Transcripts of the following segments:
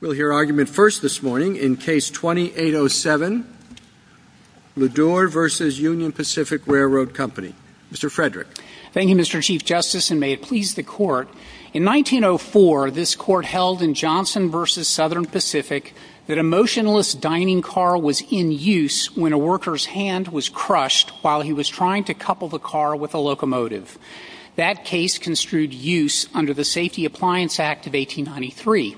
We'll hear argument first this morning in case 2807, LeDure v. Union Pacific Railroad Co. Mr. Frederick. Thank you, Mr. Chief Justice, and may it please the Court. In 1904, this Court held in Johnson v. Southern Pacific that a motionless dining car was in use when a worker's hand was crushed while he was trying to couple the car with a locomotive. That case construed use under the Safety Appliance Act of 1893.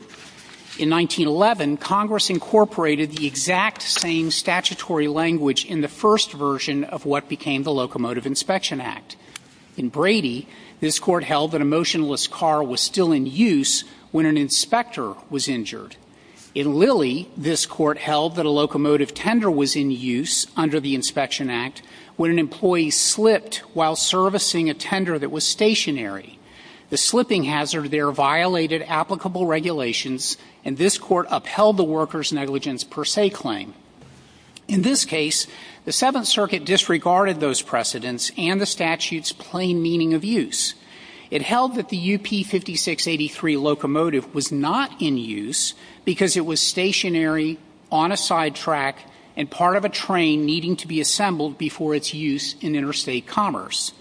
In 1911, Congress incorporated the exact same statutory language in the first version of what became the Locomotive Inspection Act. In Brady, this Court held that a motionless car was still in use when an inspector was injured. In Lilly, this Court held that a locomotive tender was in use under the Inspection Act when an employee slipped while servicing a tender that was stationary. The slipping hazard there violated applicable regulations, and this Court upheld the worker's negligence per se claim. In this case, the Seventh Circuit disregarded those precedents and the statute's plain meaning of use. It held that the UP5683 locomotive was not in use because it was stationary, on a sidetrack, and part of a train needing to be assembled before its use in interstate commerce.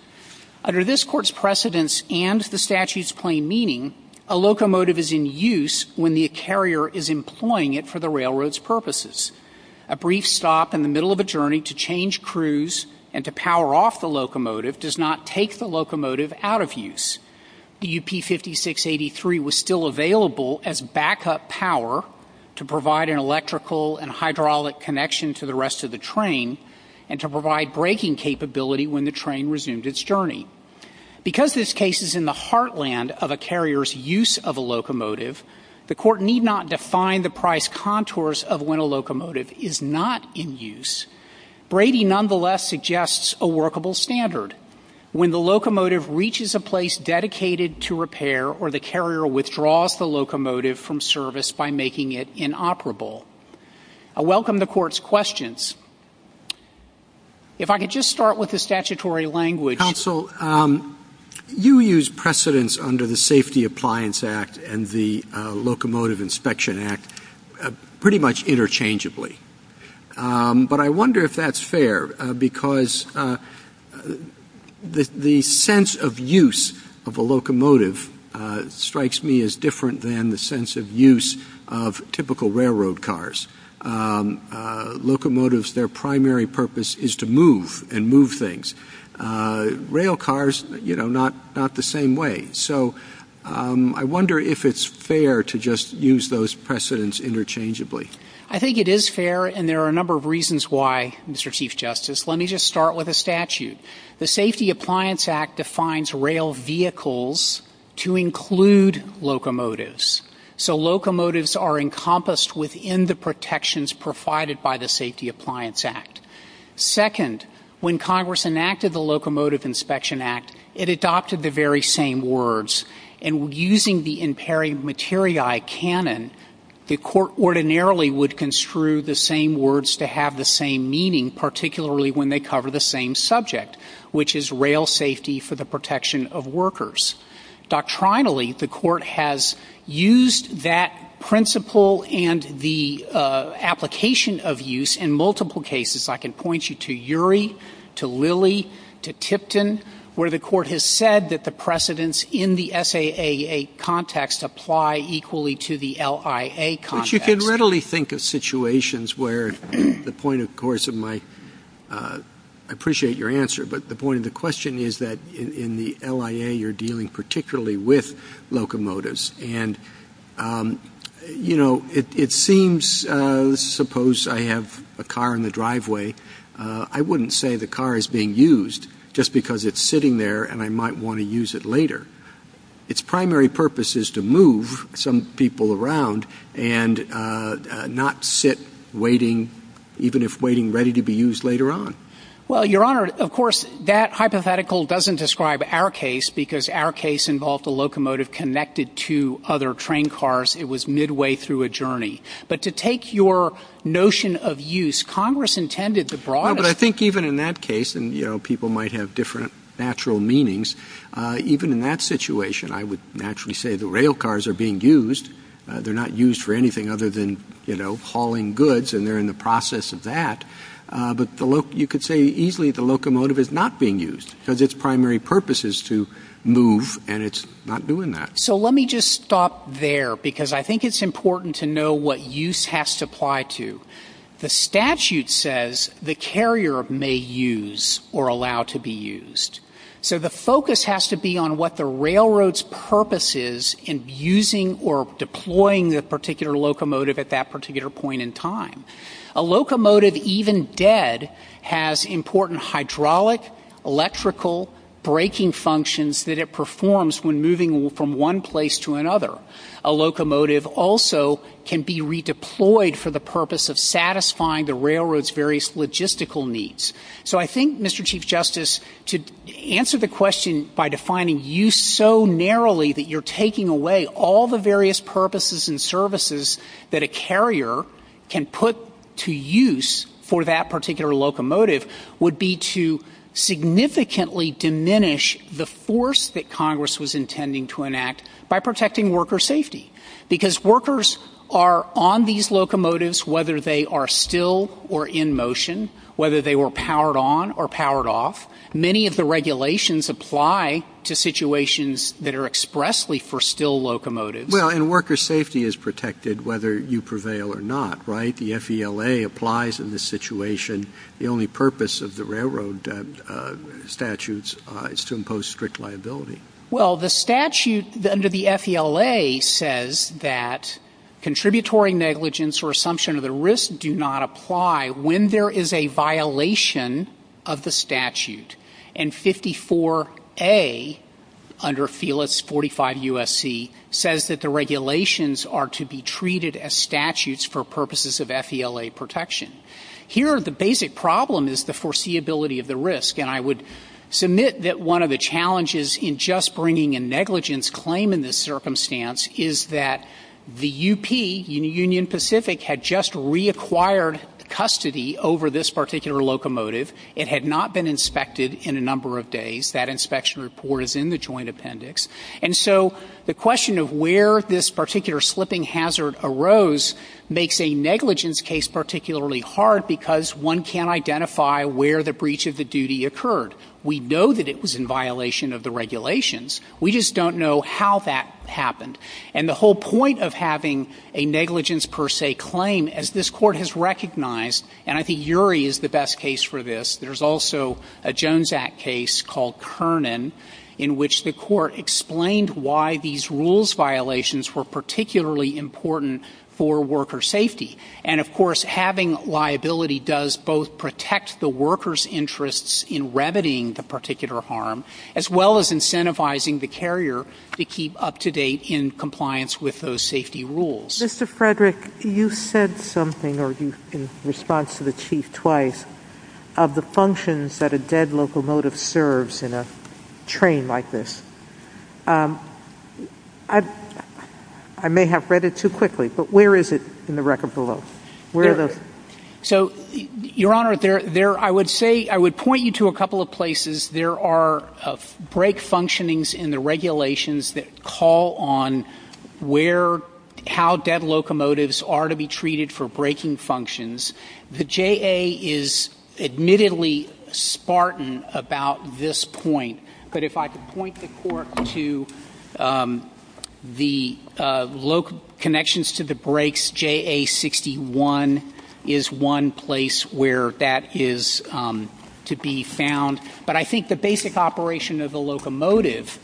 Under this Court's precedents and the statute's plain meaning, a locomotive is in use when the carrier is employing it for the railroad's purposes. A brief stop in the middle of a journey to change crews and to power off the locomotive does not take the locomotive out of use. The UP5683 was still available as backup power to provide an electrical and hydraulic connection to the rest of the train and to provide braking capability when the train resumed its journey. Because this case is in the heartland of a carrier's use of a locomotive, the Court need not define the price contours of when a locomotive is not in use. Brady nonetheless suggests a workable standard. When the locomotive reaches a place dedicated to repair or the carrier withdraws the locomotive from service by making it inoperable. I welcome the Court's questions. If I could just start with the statutory language. Counsel, you use precedents under the Safety Appliance Act and the Locomotive Inspection Act pretty much interchangeably. But I wonder if that's fair because the sense of use of a locomotive strikes me as different than the sense of use of typical railroad cars. Locomotives, their primary purpose is to move and move things. Rail cars, you know, not the same way. So I wonder if it's fair to just use those precedents interchangeably. I think it is fair and there are a number of reasons why, Mr. Chief Justice. Let me just start with a statute. The Safety Appliance Act defines rail vehicles to include locomotives. So locomotives are encompassed within the protections provided by the Safety Appliance Act. Second, when Congress enacted the Locomotive Inspection Act, it adopted the very same words. And using the imperi materiae canon, the Court ordinarily would construe the same words to have the same meaning, particularly when they cover the same subject, which is rail safety for the protection of workers. Doctrinally, the Court has used that principle and the application of use in multiple cases. I can point you to Urey, to Lilly, to Tipton, where the Court has said that the precedents in the SAA context apply equally to the LIA context. You can readily think of situations where the point, of course, of my... I appreciate your answer, but the point of the question is that in the LIA, you're dealing particularly with locomotives. And, you know, it seems, suppose I have a car in the driveway, I wouldn't say the car is being used just because it's sitting there and I might want to use it later. Its primary purpose is to move some people around and not sit waiting, even if waiting ready to be used later on. Well, Your Honour, of course, that hypothetical doesn't describe our case because our case involved a locomotive connected to other train cars. It was midway through a journey. But to take your notion of use, Congress intended to broaden... No, but I think even in that case, and, you know, people might have different natural meanings, even in that situation, I would naturally say the rail cars are being used. They're not used for anything other than, you know, hauling goods and they're in the process of that. But you could say easily the locomotive is not being used because its primary purpose is to move and it's not doing that. So let me just stop there because I think it's important to know what use has to apply to. The statute says the carrier may use or allow to be used. So the focus has to be on what the railroad's purpose is in using or deploying the particular locomotive at that particular point in time. A locomotive, even dead, has important hydraulic, electrical, braking functions that it performs when moving from one place to another. A locomotive also can be redeployed for the purpose of satisfying the railroad's various logistical needs. So I think, Mr Chief Justice, to answer the question by defining use so narrowly that you're taking away all the various purposes and services that a carrier can put to use for that particular locomotive would be to significantly diminish the force that Congress was intending to enact by protecting worker safety. Because workers are on these locomotives, whether they are still or in motion, whether they were powered on or powered off. Many of the regulations apply to situations that are expressly for still locomotives. Well, and worker safety is protected whether you prevail or not, right? The FELA applies in this situation. The only purpose of the railroad statutes is to impose strict liability. Well, the statute under the FELA says that contributory negligence or assumption of the risk do not apply when there is a violation of the statute. And 54A under Felix 45 USC says that the regulations are to be treated as statutes for purposes of FELA protection. Here, the basic problem is the foreseeability of the risk. And I would submit that one of the challenges in just bringing a negligence claim in this circumstance is that the UP, Union Pacific, had just reacquired custody over this particular locomotive. It had not been inspected in a number of days. That inspection report is in the joint appendix. And so the question of where this particular slipping hazard arose makes a negligence case particularly hard because one can't identify where the breach of the duty occurred. We know that it was in violation of the regulations. We just don't know how that happened. And the whole point of having a negligence per se claim, as this court has recognized, and I think URI is the best case for this. There's also a Jones Act case called Kernan in which the court explained why these rules violations were particularly important for worker safety. And of course, having liability does both protect the worker's interests in remedying the particular harm, as well as incentivizing the carrier to keep up-to-date in compliance with those safety rules. Mr. Frederick, you said something, or you can respond to the Chief twice, of the functions that a dead locomotive serves in a train like this. I may have read it too quickly, but where is it in the record below? So, Your Honor, I would point you to a couple of places. There are brake functionings in the regulations that call on how dead locomotives are to be treated for braking functions. The JA is admittedly spartan about this point, but if I could point the court to the connections to the brakes, JA61 is one place where that is to be found. But I think the basic operation of a locomotive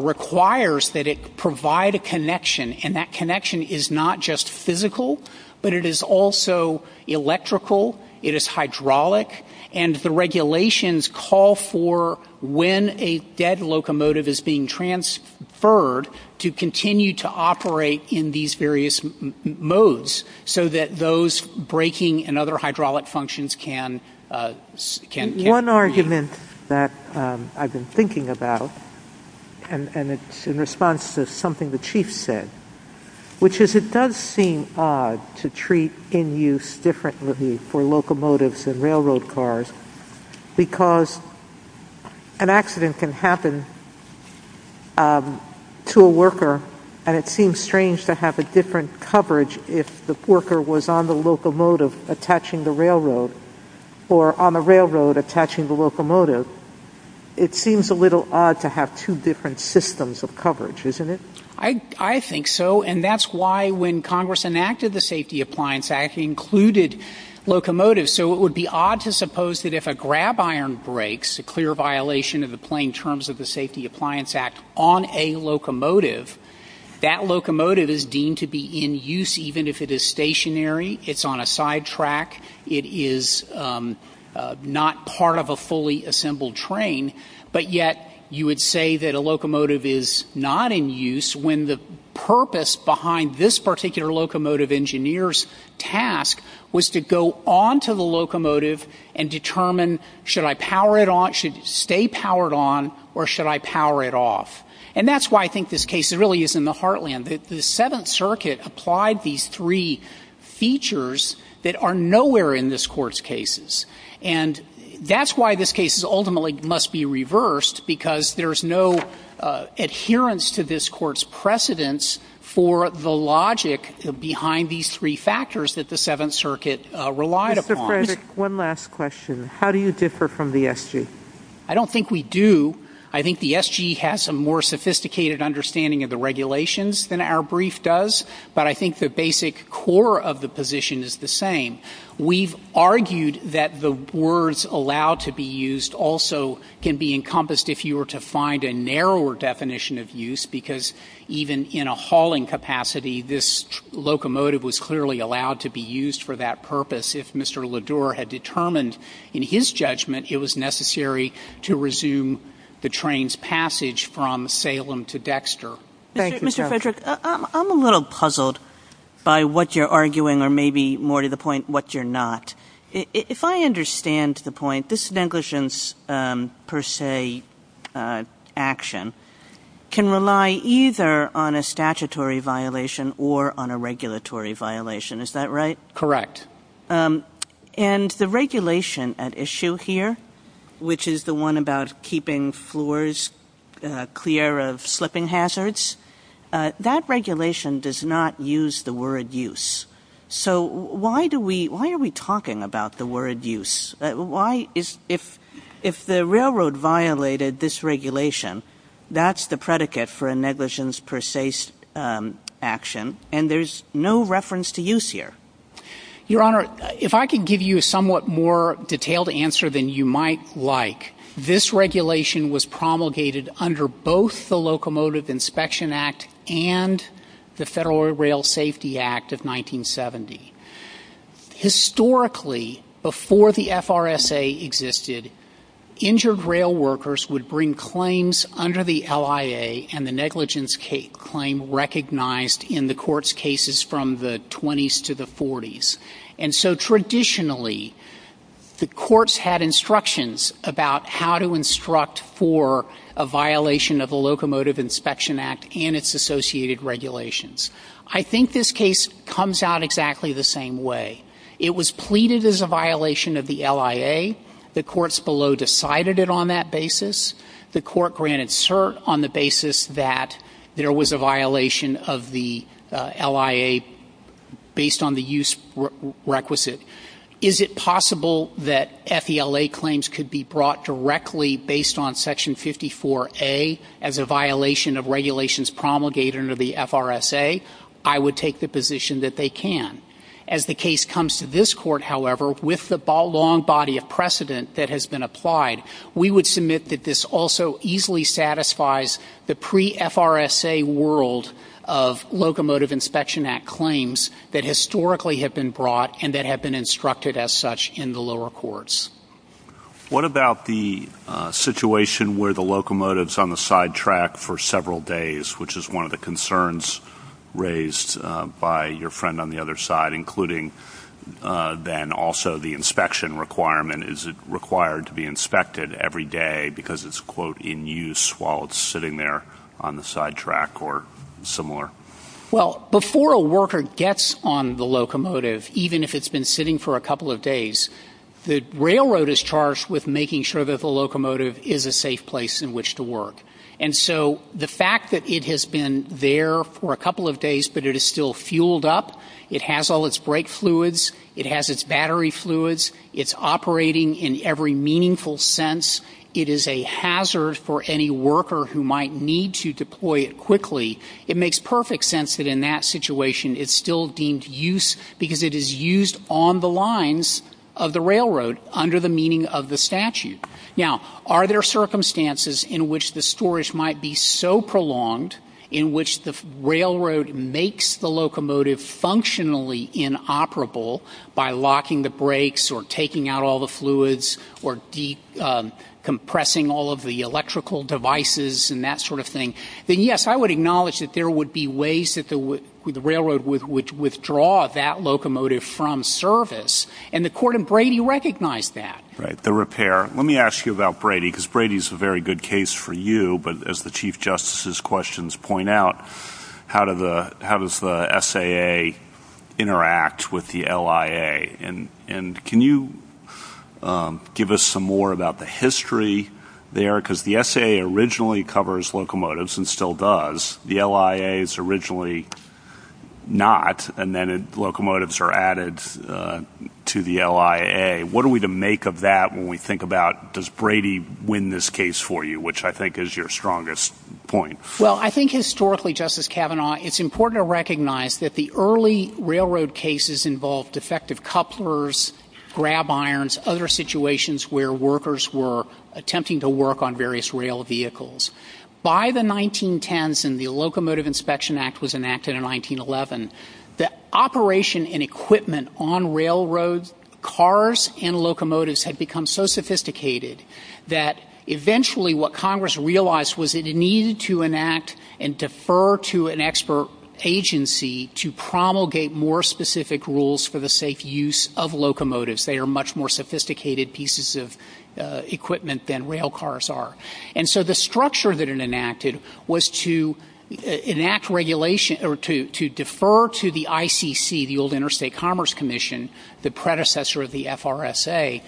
requires that it provide a connection, and that connection is not just physical, but it is also electrical, it is hydraulic, and the regulations call for when a dead locomotive is being transferred to continue to operate in these various modes, so that those braking and other hydraulic functions can... One argument that I've been thinking about, and it's in response to something the Chief said, which is it does seem odd to treat in use differently for locomotives and railroad cars, because an accident can happen to a worker, and it seems strange to have a different coverage if the worker was on the locomotive attaching the railroad, or on the railroad attaching the locomotive. It seems a little odd to have two different systems of coverage, isn't it? I think so, and that's why when Congress enacted the Safety Appliance Act, it included locomotives, so it would be odd to suppose that if a grab iron breaks, a clear violation of the plain terms of the Safety Appliance Act on a locomotive, that locomotive is deemed to be in use even if it is stationary, it's on a sidetrack, it is not part of a fully assembled train, but yet you would say that a locomotive is not in use when the purpose behind this particular locomotive engineer's task was to go onto the locomotive and determine, should I power it on, should it stay powered on, or should I power it off? And that's why I think this case really is in the heartland. The Seventh Circuit applied these three features that are nowhere in this Court's cases, and that's why this case ultimately must be reversed because there's no adherence to this Court's precedence for the logic behind these three factors that the Seventh Circuit relied upon. Mr. President, one last question. How do you differ from the SG? I don't think we do. I think the SG has a more sophisticated understanding of the regulations than our brief does, but I think the basic core of the position is the same. We've argued that the words allowed to be used also can be encompassed if you were to find a narrower definition of use because even in a hauling capacity, this locomotive was clearly allowed to be used for that purpose. If Mr. Ledour had determined, in his judgment, it was necessary to resume the train's passage from Salem to Dexter. Mr. Frederick, I'm a little puzzled by what you're arguing, or maybe more to the point, what you're not. If I understand the point, this negligence per se action can rely either on a statutory violation or on a regulatory violation. Is that right? Correct. And the regulation at issue here, which is the one about keeping floors clear of slipping hazards, that regulation does not use the word use. So why are we talking about the word use? If the railroad violated this regulation, that's the predicate for a negligence per se action, and there's no reference to use here. Your Honour, if I could give you a somewhat more detailed answer than you might like, this regulation was promulgated under both the Locomotive Inspection Act and the Federal Rail Safety Act of 1970. Historically, before the FRSA existed, injured rail workers would bring claims under the LIA and the negligence claim recognized in the court's cases from the 20s to the 40s. And so traditionally, the courts had instructions about how to instruct for a violation of the Locomotive Inspection Act and its associated regulations. I think this case comes out exactly the same way. It was pleaded as a violation of the LIA. The courts below decided it on that basis. The court granted cert on the basis that there was a violation of the LIA based on the use requisite. Is it possible that FELA claims could be brought directly based on Section 54A as a violation of regulations promulgated under the FRSA? I would take the position that they can. As the case comes to this court, however, with the long body of precedent that has been applied, we would submit that this also easily satisfies the pre-FRSA world of Locomotive Inspection Act claims that historically have been brought and that have been instructed as such in the lower courts. What about the situation where the locomotive's on the sidetrack for several days, which is one of the concerns raised by your friend on the other side, including then also the inspection requirement? Is it required to be inspected every day because it's, quote, in use while it's sitting there on the sidetrack or similar? Well, before a worker gets on the locomotive, even if it's been sitting for a couple of days, the railroad is charged with making sure that the locomotive is a safe place in which to work. And so the fact that it has been there for a couple of days, but it is still fuelled up, it has all its brake fluids, it has its battery fluids, it's operating in every meaningful sense, it is a hazard for any worker who might need to deploy it quickly, it makes perfect sense that in that situation it's still deemed use because it is used on the lines of the railroad under the meaning of the statute. Now, are there circumstances in which the storage might be so prolonged in which the railroad makes the locomotive functionally inoperable by locking the brakes or taking out all the fluids or compressing all of the electrical devices and that sort of thing? Then yes, I would acknowledge that there would be ways that the railroad would withdraw that locomotive from service. And the court in Brady recognized that. Right, the repair. Let me ask you about Brady because Brady is a very good case for you. But as the Chief Justice's questions point out, how does the SAA interact with the LIA? And can you give us some more about the history there? Because the SAA originally covers locomotives and still does. The LIA is originally not and then locomotives are added to the LIA. What are we to make of that when we think about does Brady win this case for you, which I think is your strongest point? Well, I think historically, Justice Kavanaugh, it's important to recognize that the early railroad cases involved defective couplers, grab irons, other situations where workers were attempting to work on various rail vehicles. By the 1910s and the Locomotive Inspection Act was enacted in 1911, the operation and equipment on railroad cars and locomotives had become so sophisticated that eventually what Congress realized was it needed to enact and defer to an expert agency to promulgate more specific rules for the safe use of locomotives. They are much more sophisticated pieces of equipment than rail cars are. And so the structure that it enacted was to enact regulation or to defer to the ICC, the Old Interstate Commerce Commission, the predecessor of the FRSA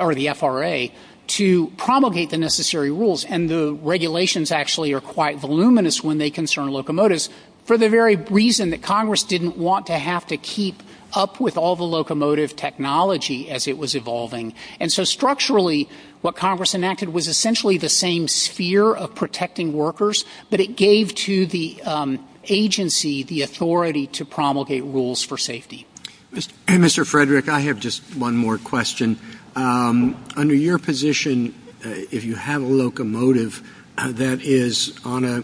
or the FRA, to promulgate the necessary rules and the regulations actually are quite voluminous when they concern locomotives for the very reason that Congress didn't want to have to keep up with all the locomotive technology as it was evolving. And so structurally, what Congress enacted was essentially the same sphere of protecting workers but it gave to the agency the authority to promulgate rules for safety. Mr. Frederick, I have just one more question. Under your position, if you have a locomotive that is on a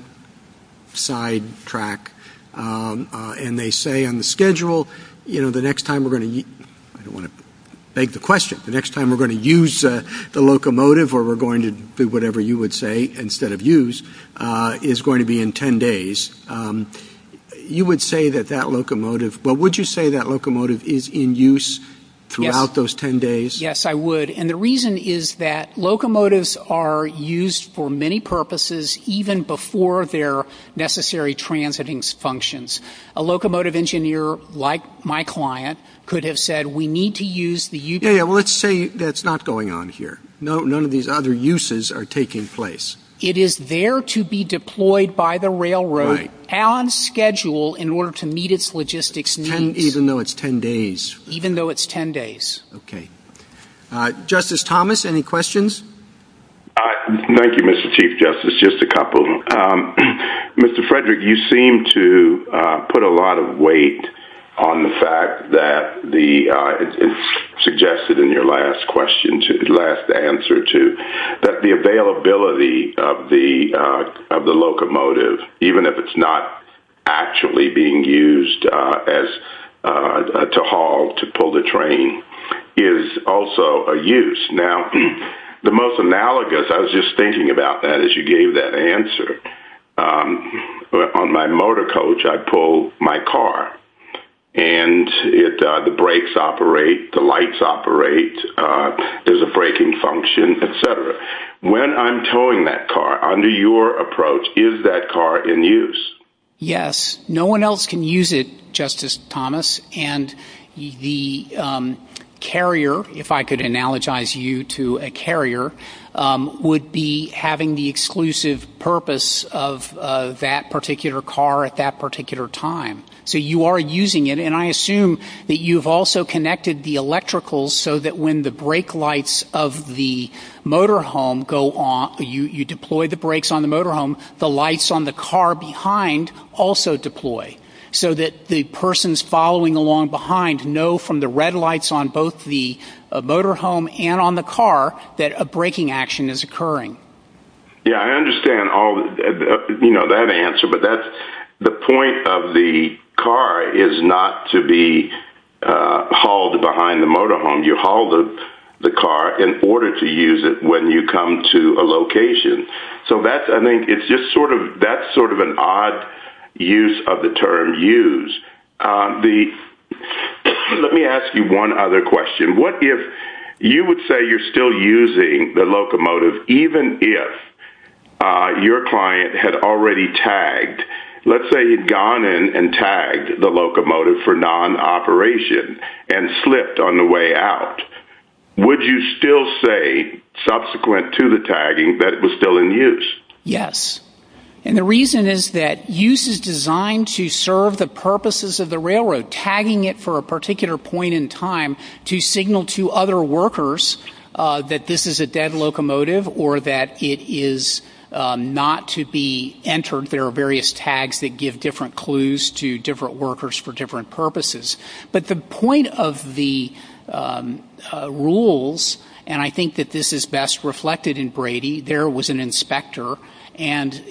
side track and they say on the schedule, you know, the next time we're going to, I don't want to beg the question, the next time we're going to use the locomotive or we're going to do whatever you would say instead of use, is going to be in 10 days. You would say that that locomotive, but would you say that locomotive is in use throughout those 10 days? Yes, I would. And the reason is that locomotives are used for many purposes even before their necessary transiting functions. A locomotive engineer like my client could have said, we need to use the utility. Yeah, let's say that's not going on here. None of these other uses are taking place. It is there to be deployed by the railroad on schedule in order to meet its logistics needs. Even though it's 10 days. Even though it's 10 days. Okay. Justice Thomas, any questions? Thank you, Mr. Chief Justice. Just a couple. Mr. Frederick, you seem to put a lot of weight on the fact that the, it's suggested in your last question, last answer too, that the availability of the locomotive, even if it's not actually being used as, to haul, to pull the train, is also a use. Now, the most analogous, I was just thinking about that as you gave that answer. On my motor coach, I pull my car. And the brakes operate, the lights operate, there's a braking function, et cetera. When I'm towing that car, under your approach, is that car in use? Yes. No one else can use it, Justice Thomas. And the carrier, if I could analogize you to a carrier, would be having the exclusive purpose of that particular car at that particular time. So you are using it. And I assume that you've also connected the electricals so that when the brake lights of the motorhome go on, you deploy the brakes on the motorhome, the lights on the car behind also deploy. So that the persons following along behind know from the red lights on both the motorhome and on the car that a braking action is occurring. Yeah, I understand all, you know, that answer. But that's, the point of the car is not to be hauled behind the motorhome. You haul the car in order to use it when you come to a location. So that's, I think, it's just sort of, that's sort of an odd use of the term use. The, let me ask you one other question. What if you would say you're still using the locomotive even if your client had already tagged? Let's say you've gone in and tagged the locomotive for non-operation and slipped on the way out. Would you still say subsequent to the tagging that it was still in use? Yes. And the reason is that use is designed to serve the purposes of the railroad. Tagging it for a particular point in time to signal to other workers that this is a dead locomotive or that it is not to be entered. There are various tags that give different clues to different workers for different purposes. But the point of the rules, and I think that this is best reflected in Brady, there was an inspector. And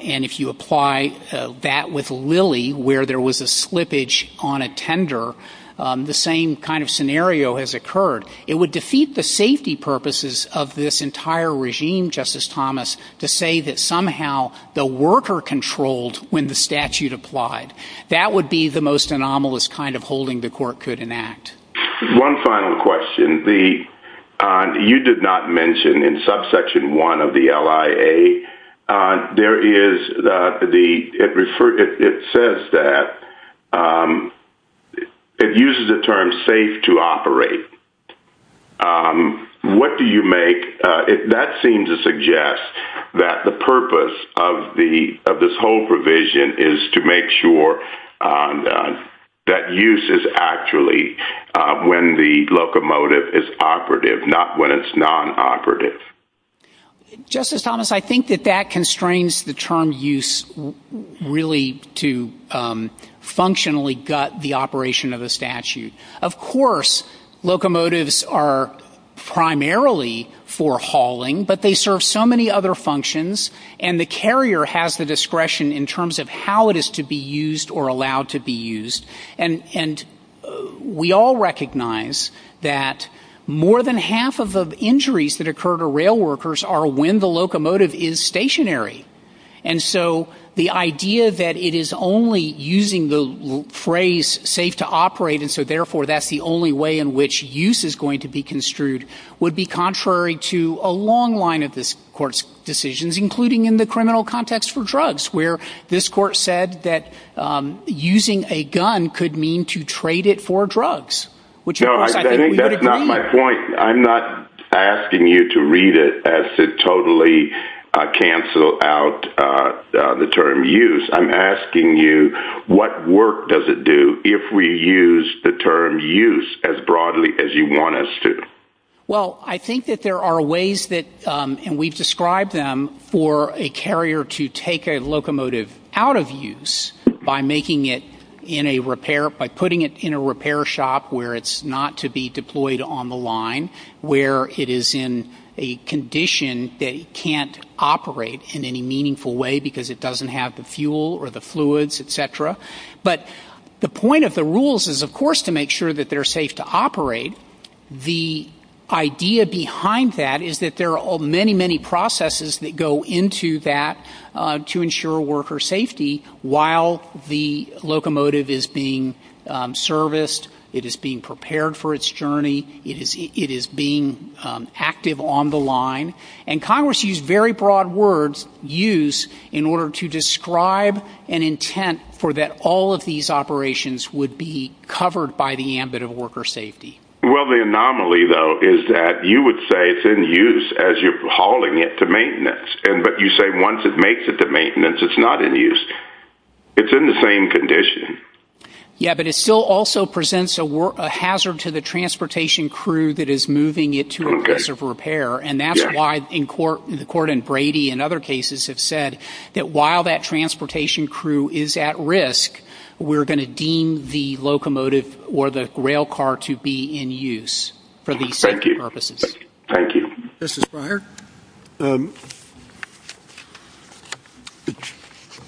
if you apply that with Lilly where there was a slippage on a tender, the same kind of scenario has occurred. It would defeat the safety purposes of this entire regime, Justice Thomas, to say that somehow the worker controlled when the statute applied. That would be the most anomalous kind of holding the court could enact. One final question. You did not mention in subsection 1 of the LIA, it says that it uses the term safe to operate. What do you make, that seems to suggest that the purpose of this whole provision is to make sure that use is actually when the locomotive is operative, not when it's non-operative. Justice Thomas, I think that that constrains the term use really to functionally gut the operation of the statute. Of course, locomotives are primarily for hauling, but they serve so many other functions, and the carrier has the discretion in terms of how it is to be used or allowed to be used. And we all recognize that more than half of the injuries that occur to rail workers are when the locomotive is stationary. And so the idea that it is only using the phrase safe to operate, and so therefore that's the only way in which use is going to be construed, would be contrary to a long line of this court's decisions, including in the criminal context for drugs, where this court said that using a gun could mean to trade it for drugs. No, I think that's not my point. I'm not asking you to read it as to totally cancel out the term use. I'm asking you what work does it do if we use the term use as broadly as you want us to? Well, I think that there are ways that, and we've described them, for a carrier to take a locomotive out of use by making it in a repair, by putting it in a repair shop where it's not to be deployed on the line, where it is in a condition that it can't operate in any meaningful way because it doesn't have the fuel or the fluids, etc. But the point of the rules is, of course, to make sure that they're safe to operate. The idea behind that is that there are many, many processes that go into that to ensure worker safety while the locomotive is being serviced, it is being prepared for its journey, it is being active on the line. And Congress used very broad words, use, in order to describe an intent for that all of these operations would be covered by the ambit of worker safety. Well, the anomaly, though, is that you would say it's in use as you're hauling it to maintenance. But you say once it makes it to maintenance, it's not in use. It's in the same condition. Yeah, but it still also presents a hazard to the transportation crew that is moving it to a place of repair. And that's why the court in Brady and other cases have said that while that transportation crew is at risk, we're going to deem the locomotive or the rail car to be in use for these purposes. Thank you. Justice Breyer?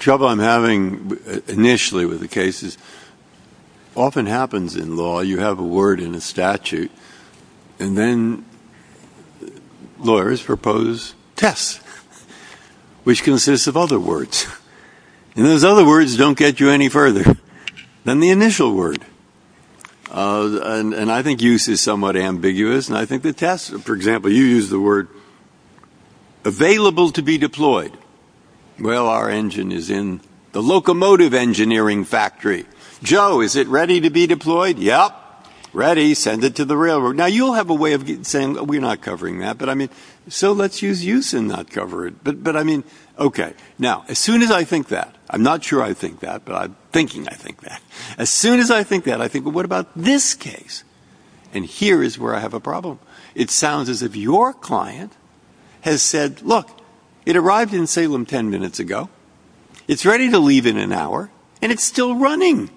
Trouble I'm having initially with the case is it often happens in law, you have a word in a statute, and then lawyers propose test, which consists of other words. And those other words don't get you any further than the initial word. And I think use is somewhat ambiguous. And I think the test, for example, you use the word available to be deployed. Well, our engine is in the locomotive engineering factory. Joe, is it ready to be deployed? Yeah, ready. Send it to the railroad. Now, you'll have a way of saying we're not covering that. But I mean, so let's use use and not cover it. But I mean, OK. Now, as soon as I think that, I'm not sure I think that. But I'm thinking I think that. As soon as I think that, I think, well, what about this case? And here is where I have a problem. It sounds as if your client has said, look, it arrives in Salem 10 minutes ago. It's ready to leave in an hour. And it's still running.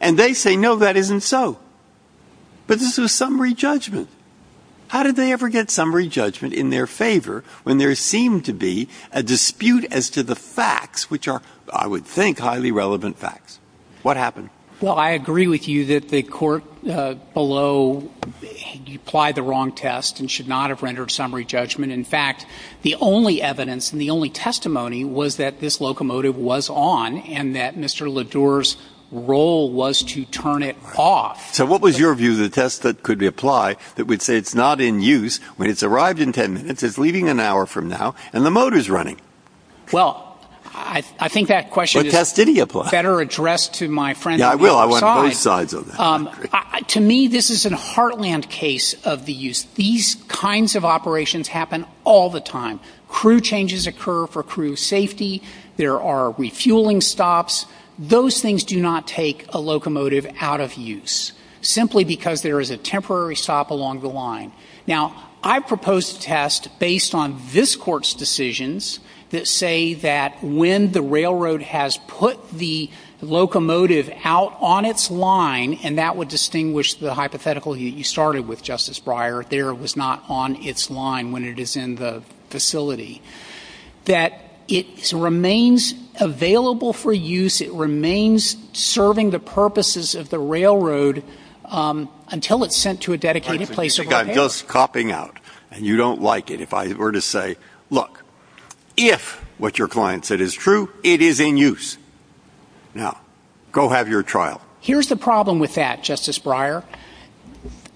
And they say, no, that isn't so. But this is summary judgment. How did they ever get summary judgment in their favor when there seemed to be a dispute as to the facts, which are, I would think, highly relevant facts? What happened? Well, I agree with you that the court below applied the wrong test and should not have rendered summary judgment. In fact, the only evidence and the only testimony was that this locomotive was on and that Mr. Ledour's role was to turn it off. So what was your view of the test that could be applied that would say it's not in use when it's arrived in 10 minutes, it's leaving an hour from now, and the motor's running? Well, I think that question is better addressed to my friend. I want both sides of that. To me, this is a heartland case of the use. These kinds of operations happen all the time. Crew changes occur for crew safety. There are refueling stops. Those things do not take a locomotive out of use simply because there is a temporary stop along the line. Now, I propose a test based on this court's decisions that say that when the railroad has put the locomotive out on its line, and that would distinguish the hypothetical you started with, Justice Breyer, there it was not on its line when it is in the facility, that it remains available for use, it remains serving the purposes of the railroad until it's sent to a dedicated place. You've got us copping out and you don't like it. Or to say, look, if what your client said is true, it is in use. Now, go have your trial. Here's the problem with that, Justice Breyer.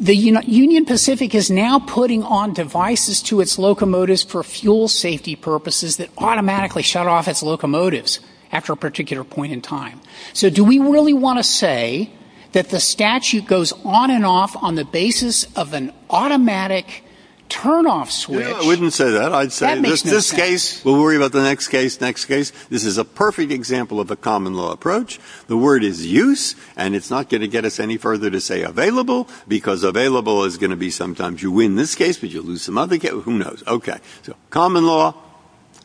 The Union Pacific is now putting on devices to its locomotives for fuel safety purposes that automatically shut off its locomotives after a particular point in time. So do we really want to say that the statute goes on and off on the basis of an automatic turn-off switch? I wouldn't say that. I'd say in this case, we'll worry about the next case, next case. This is a perfect example of a common law approach. The word is use, and it's not going to get us any further to say available, because available is going to be sometimes you win this case, but you lose some other case. Who knows? Okay. Common law,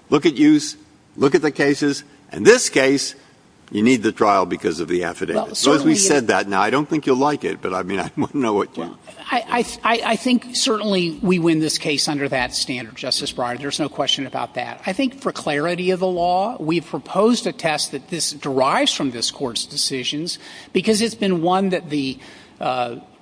look at use, look at the cases. In this case, you need the trial because of the affidavit. So as we said that, now, I don't think you'll like it, but I mean, I want to know what you think. I think certainly we win this case under that standard, Justice Breyer. There's no question about that. I think for clarity of the law, we've proposed a test that this derives from this court's decisions because it's been one that the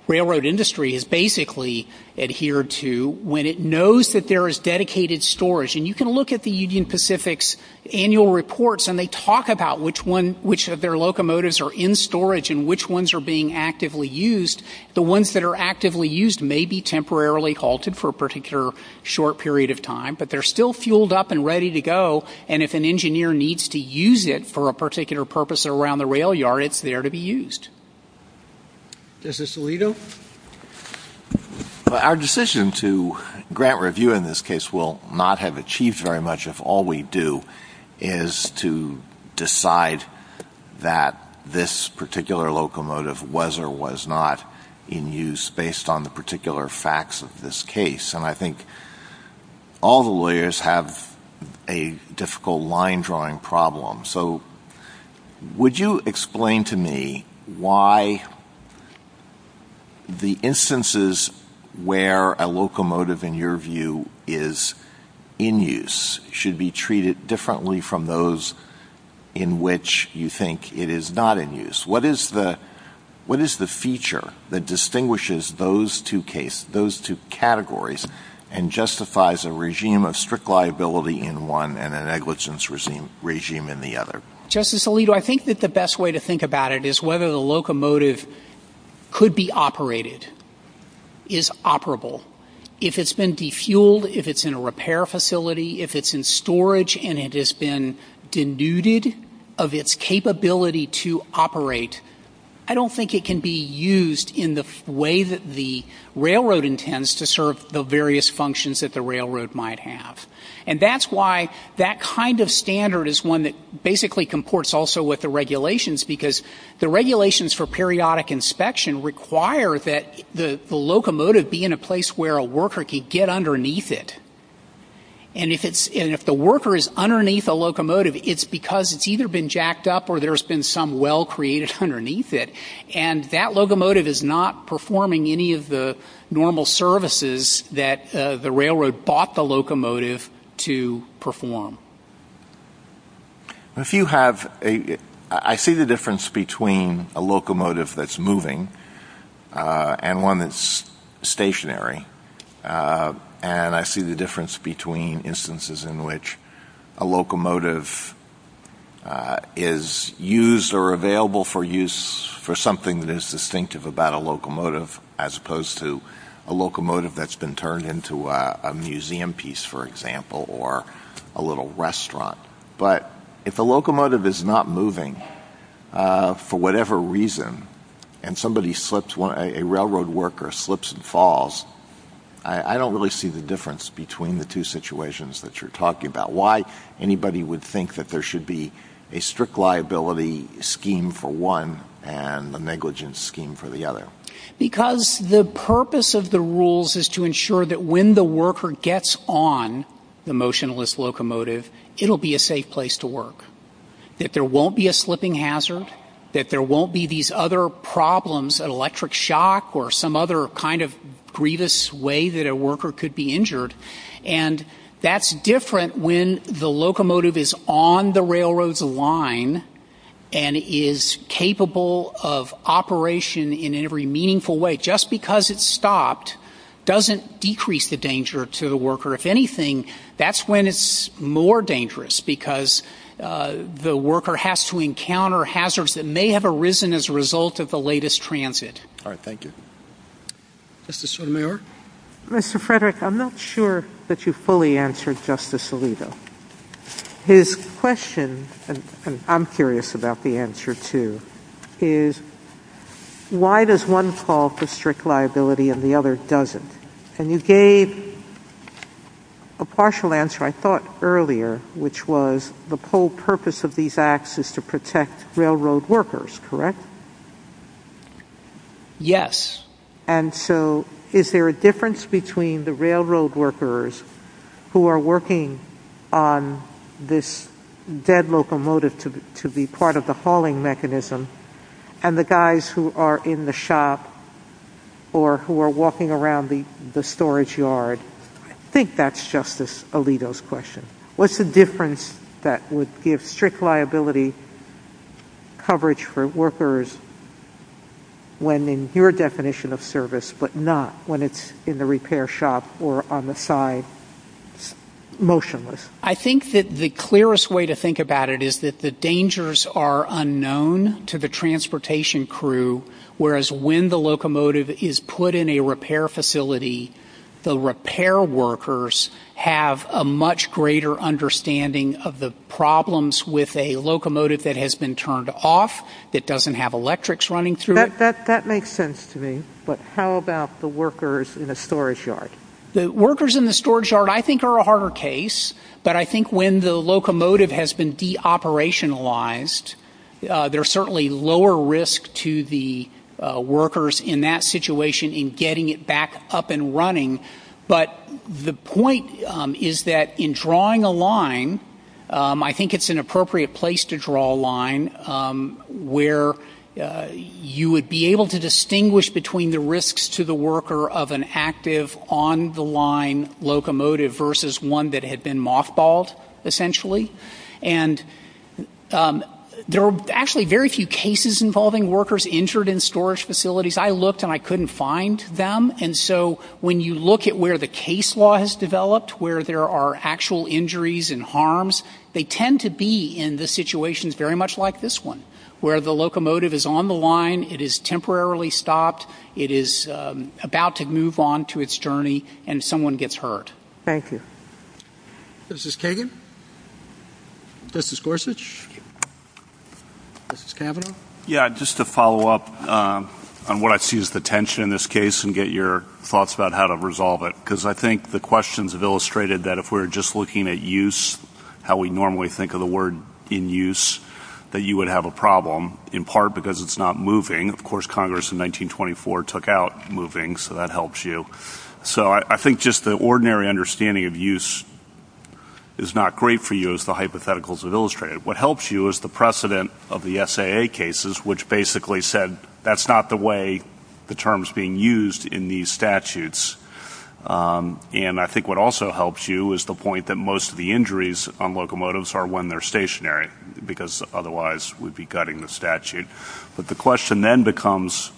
railroad industry has basically adhered to when it knows that there is dedicated storage. And you can look at the Union Pacific's annual reports, and they talk about which of their locomotives are in storage and which ones are being actively used. The ones that are actively used may be temporarily halted for a particular short period of time, but they're still fueled up and ready to go, and if an engineer needs to use it for a particular purpose around the rail yard, it's there to be used. Justice Alito? Our decision to grant review in this case will not have achieved very much if all we do is to decide that this particular locomotive was or was not in use based on the particular facts of this case. And I think all the lawyers have a difficult line-drawing problem. So would you explain to me why the instances where a locomotive, in your view, is in use should be treated differently from those in which you think it is not in use? What is the feature that distinguishes those two cases, those two categories, and justifies a regime of strict liability in one and a negligence regime in the other? Justice Alito, I think that the best way to think about it is whether the locomotive could be operated, is operable. If it's been defueled, if it's in a repair facility, if it's in storage and it has been denuded of its capability to operate, I don't think it can be used in the way that the railroad intends to serve the various functions that the railroad might have. And that's why that kind of standard is one that basically comports also with the regulations, because the regulations for periodic inspection require that the locomotive be in a place where a worker can get underneath it. And if the worker is underneath a locomotive, it's because it's either been jacked up or there's been some well created underneath it. And that locomotive is not performing any of the normal services that the railroad bought the locomotive to perform. I see the difference between a locomotive that's moving and one that's stationary. And I see the difference between instances in which a locomotive is used or available for use for something that is distinctive about a locomotive, as opposed to a locomotive that's been turned into a museum piece, for example, or a little restaurant. But if a locomotive is not moving, for whatever reason, and somebody slips one, a railroad worker slips and falls, I don't really see the difference between the two situations that you're talking about. Why anybody would think that there should be a strict liability scheme for one and the negligence scheme for the other? Because the purpose of the rules is to ensure that when the worker gets on the motionless locomotive, it'll be a safe place to work, that there won't be a slipping hazard, that there won't be some other kind of grievous way that a worker could be injured. And that's different when the locomotive is on the railroad's line and is capable of operation in every meaningful way. Just because it's stopped doesn't decrease the danger to the worker. If anything, that's when it's more dangerous, because the worker has to encounter hazards that may have arisen as a result of the latest transit. All right, thank you. Mr. Sotomayor? Mr. Frederick, I'm not sure that you fully answered Justice Alito. His question, and I'm curious about the answer, too, is why does one call for strict liability and the other doesn't? And you gave a partial answer, I thought, earlier, which was the whole purpose of these acts is to protect railroad workers, correct? Yes. And so is there a difference between the railroad workers who are working on this dead locomotive to be part of the hauling mechanism and the guys who are in the shop or who are walking around the storage yard? I think that's Justice Alito's question. What's the difference that would give strict liability coverage for workers when in your definition of service but not when it's in the repair shop or on the side motionless? I think that the clearest way to think about it is that the dangers are unknown to the transportation crew, whereas when the locomotive is put in a repair facility, the repair workers have a much greater understanding of the problems with a locomotive that has been turned off, that doesn't have electrics running through it. That makes sense to me, but how about the workers in the storage yard? The workers in the storage yard, I think, are a harder case, but I think when the locomotive has been de-operationalized, there's certainly lower risk to the workers in that situation in getting it back up and running. But the point is that in drawing a line, I think it's an appropriate place to draw a line where you would be able to distinguish between the risks to the worker of an active on the line locomotive versus one that had been mothballed, essentially. And there are actually very few cases involving workers injured in storage facilities. I looked and I couldn't find them, and so when you look at where the case law has developed, where there are actual injuries and harms, they tend to be in the situations very much like this one, where the locomotive is on the line, it is temporarily stopped, it is about to move on to its journey, and someone gets hurt. Thank you. This is Kagan. This is Gorsuch. This is Kavanaugh. Yeah, just to follow up on what I see as the tension in this case and get your thoughts about how to resolve it, because I think the questions have illustrated that if we're just looking at use, how we normally think of the word in use, that you would have a problem, in part because it's not moving. Of course, Congress in 1924 took out moving, so that helps you. So I think just the ordinary understanding of use is not great for you, as the hypotheticals have illustrated. What helps you is the precedent of the SAA cases, which basically said that's not the way the term's being used in these statutes. And I think what also helps you is the point that most of the injuries on locomotives are when they're stationary, because otherwise we'd be gutting the statute. But the question then becomes,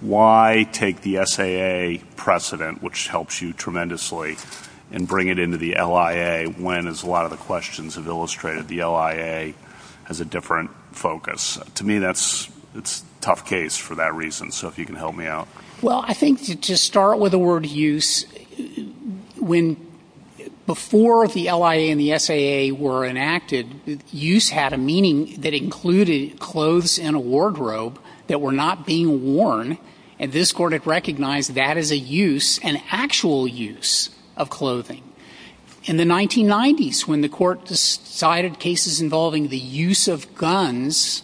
why take the SAA precedent, which helps you tremendously, and bring it into the LIA when, as a lot of the questions have illustrated, the LIA has a different focus? To me, that's a tough case for that reason. So if you can help me out. Well, I think to start with the word use, when before the LIA and the SAA were enacted, use had a meaning that included clothes in a wardrobe that were not being worn. And this court had recognized that as a use, an actual use of clothing. In the 1990s, when the court decided cases involving the use of guns,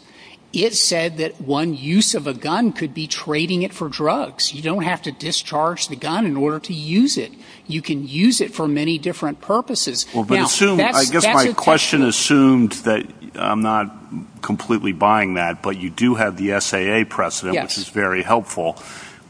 it said that one use of a gun could be trading it for drugs. You don't have to discharge the gun in order to use it. You can use it for many different purposes. Well, but assume, I guess my question assumed that I'm not completely buying that. But you do have the SAA precedent, which is very helpful.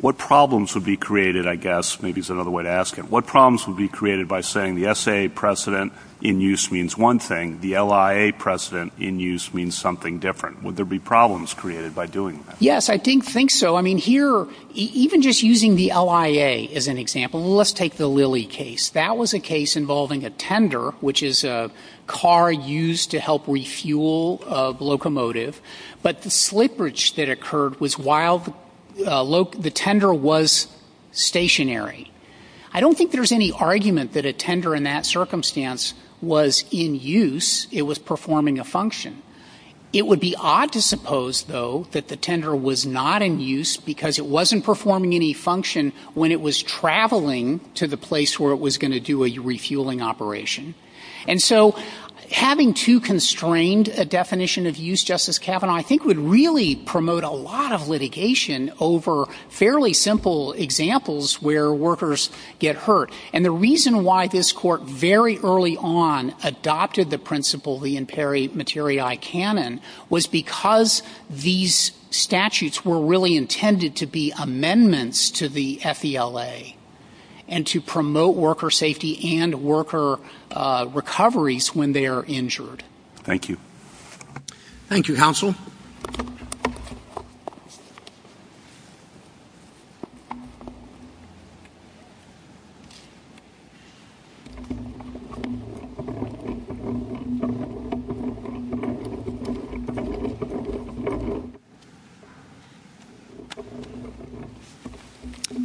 What problems would be created, I guess, maybe is another way to ask it. What problems would be created by saying the SAA precedent in use means one thing, the LIA precedent in use means something different? Would there be problems created by doing that? Yes, I think so. I mean, here, even just using the LIA as an example, let's take the Lilly case. That was a case involving a tender, which is a car used to help refuel a locomotive. But the slippage that occurred was while the tender was stationary. I don't think there's any argument that a tender in that circumstance was in use. It was performing a function. It would be odd to suppose, though, that the tender was not in use because it wasn't performing any function when it was traveling to the place where it was going to do a refueling operation. And so having too constrained a definition of use, Justice Kavanaugh, I think would really promote a lot of litigation over fairly simple examples where workers get hurt. And the reason why this court very early on adopted the principle, the imperi materiae canon, was because these statutes were really intended to be amendments to the FVLA and to promote worker safety and worker recoveries when they are injured. Thank you. Thank you, counsel. Thank you.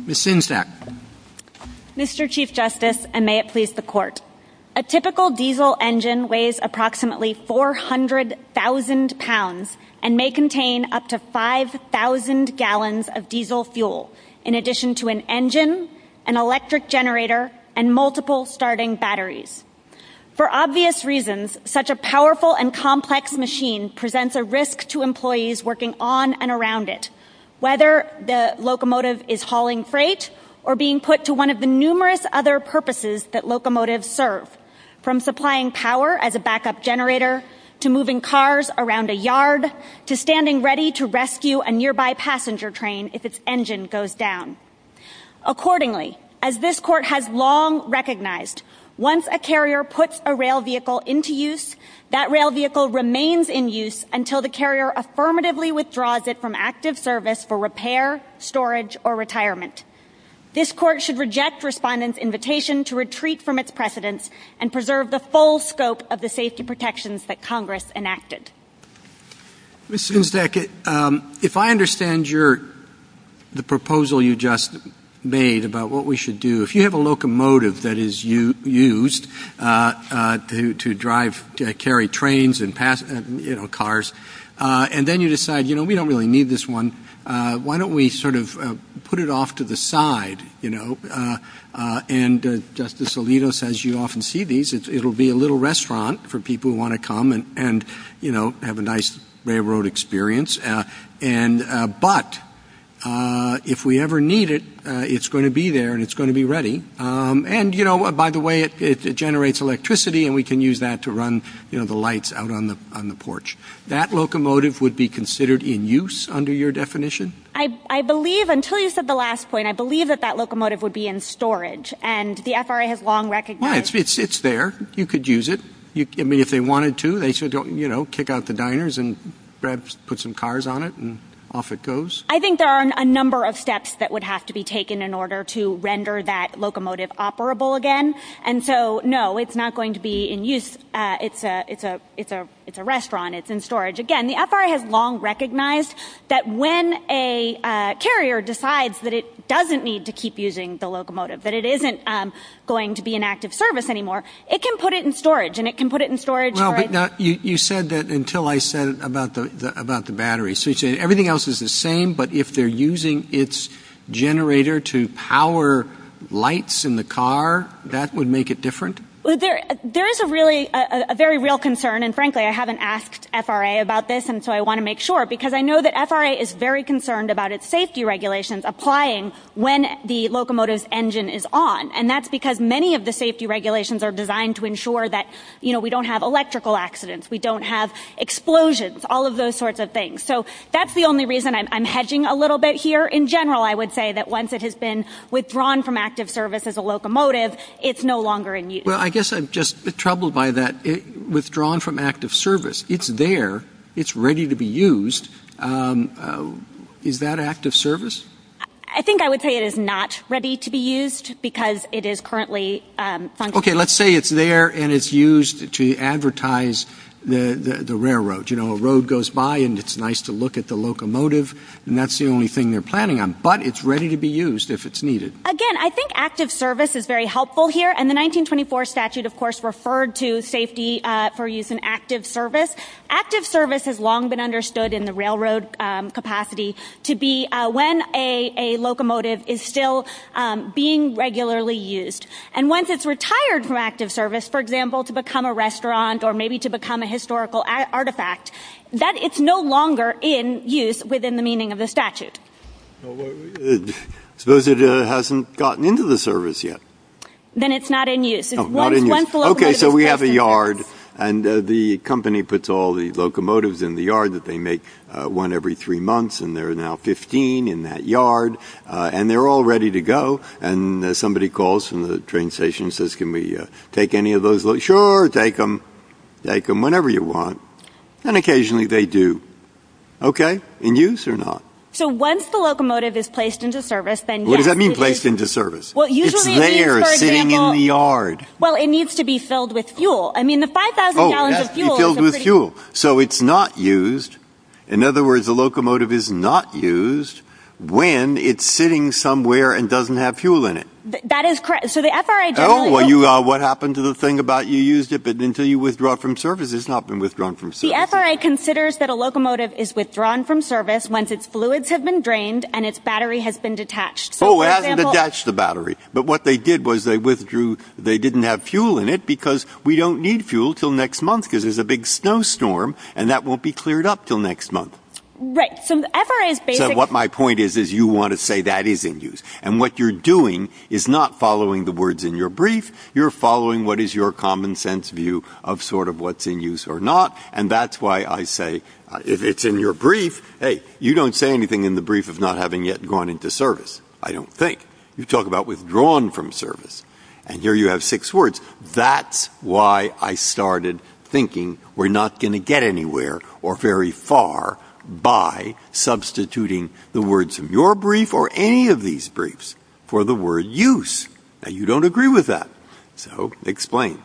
Ms. Sinsack. Mr. Chief Justice, and may it please the court, a typical diesel engine weighs approximately 400,000 pounds and may contain up to 5,000 gallons of diesel fuel, in addition to an engine, an electric generator, and multiple starting batteries. For obvious reasons, such a powerful and complex machine presents a risk to employees working on and around it, whether the locomotive is hauling freight or being put to one of numerous other purposes that locomotives serve, from supplying power as a backup generator to moving cars around a yard to standing ready to rescue a nearby passenger train if its engine goes down. Accordingly, as this court has long recognized, once a carrier puts a rail vehicle into use, that rail vehicle remains in use until the carrier affirmatively withdraws it from active service for repair, storage, or retirement. This court should reject the respondent's invitation to retreat from its precedents and preserve the full scope of the safety protections that Congress enacted. Ms. Sinsack, if I understand the proposal you just made about what we should do, if you have a locomotive that is used to drive, carry trains and cars, and then you decide, we don't really need this one, why don't we sort of put it off to the side? And Justice Alito says you often see these. It'll be a little restaurant for people who want to come and have a nice railroad experience. But if we ever need it, it's going to be there, and it's going to be ready. And by the way, it generates electricity, and we can use that to run the lights out on the porch. That locomotive would be considered in use under your definition? I believe, until you said the last point, I believe that that locomotive would be in storage. And the FRA has long recognized... Well, it's there. You could use it. I mean, if they wanted to, they should kick out the diners and perhaps put some cars on it, and off it goes. I think there are a number of steps that would have to be taken in order to render that locomotive operable again. And so, no, it's not going to be in use. It's a restaurant. Again, the FRA has long recognized that when a carrier decides that it doesn't need to keep using the locomotive, that it isn't going to be an active service anymore, it can put it in storage, and it can put it in storage... No, but you said that until I said about the batteries. Everything else is the same, but if they're using its generator to power lights in the car, that would make it different? There's a very real concern, and frankly, I haven't asked FRA about this, and so I want to make sure, because I know that FRA is very concerned about its safety regulations applying when the locomotive's engine is on, and that's because many of the safety regulations are designed to ensure that we don't have electrical accidents, we don't have explosions, all of those sorts of things. So that's the only reason I'm hedging a little bit here. In general, I would say that once it has been withdrawn from active service as a locomotive, it's no longer in use. Well, I guess I'm just troubled by that, withdrawn from active service. It's there, it's ready to be used, is that active service? I think I would say it is not ready to be used, because it is currently... Okay, let's say it's there, and it's used to advertise the railroad, you know, a road goes by, and it's nice to look at the locomotive, and that's the only thing they're planning on, but it's ready to be used if it's needed. Again, I think active service is very helpful here, and the 1924 statute, of course, referred to safety for use in active service. Active service has long been understood in the railroad capacity to be when a locomotive is still being regularly used, and once it's retired from active service, for example, to become a restaurant, or maybe to become a historical artifact, that it's no longer in use within the meaning of the statute. Well, suppose it hasn't gotten into the service yet. Then it's not in use. Oh, not in use. Okay, so we have a yard, and the company puts all the locomotives in the yard, that they make one every three months, and there are now 15 in that yard, and they're all ready to go, and somebody calls from the train station and says, can we take any of those? Sure, take them, take them whenever you want, and occasionally they do. Okay, in use or not? So once the locomotive is placed into service, then yes. What does that mean, placed into service? It's there, sitting in the yard. Well, it needs to be filled with fuel. I mean, the 5,000 gallons of fuel is a pretty- So it's not used. In other words, the locomotive is not used when it's sitting somewhere and doesn't have fuel in it. That is correct. So the FRA- Oh, what happened to the thing about you used it, but until you withdraw from service, it's not been withdrawn from service. The FRA considers that a locomotive is withdrawn from service once its fluids have been drained and its battery has been detached. Oh, it hasn't attached the battery. But what they did was they withdrew, they didn't have fuel in it because we don't need fuel until next month because there's a big snowstorm, and that won't be cleared up until next month. Right, so the FRA is basically- What my point is is you want to say that is in use, and what you're doing is not following the words in your brief, you're following what is your common sense view of sort of what's in use or not, and that's why I say if it's in your brief, hey, you don't say anything in the brief of not having yet gone into service. I don't think. You talk about withdrawn from service. And here you have six words. That's why I started thinking we're not going to get anywhere or very far by substituting the words of your brief or any of these briefs for the word use. Now you don't agree with that. So explain.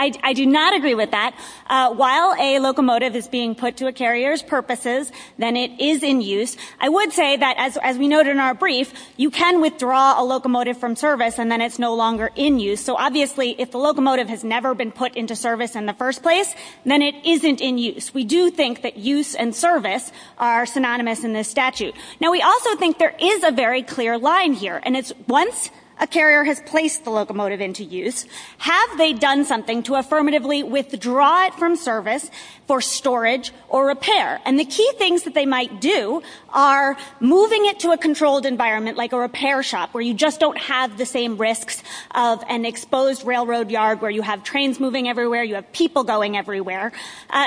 I do not agree with that. While a locomotive is being put to a carrier's purposes, then it is in use, I would say that as we noted in our brief, you can withdraw a locomotive from service and then it's no longer in use. So obviously if the locomotive has never been put into service in the first place, then it isn't in use. We do think that use and service are synonymous in this statute. Now we also think there is a very clear line here, and it's once a carrier has placed the locomotive, then they've done something to affirmatively withdraw it from service for storage or repair. And the key things that they might do are moving it to a controlled environment like a repair shop where you just don't have the same risk of an exposed railroad yard where you have trains moving everywhere, you have people going everywhere.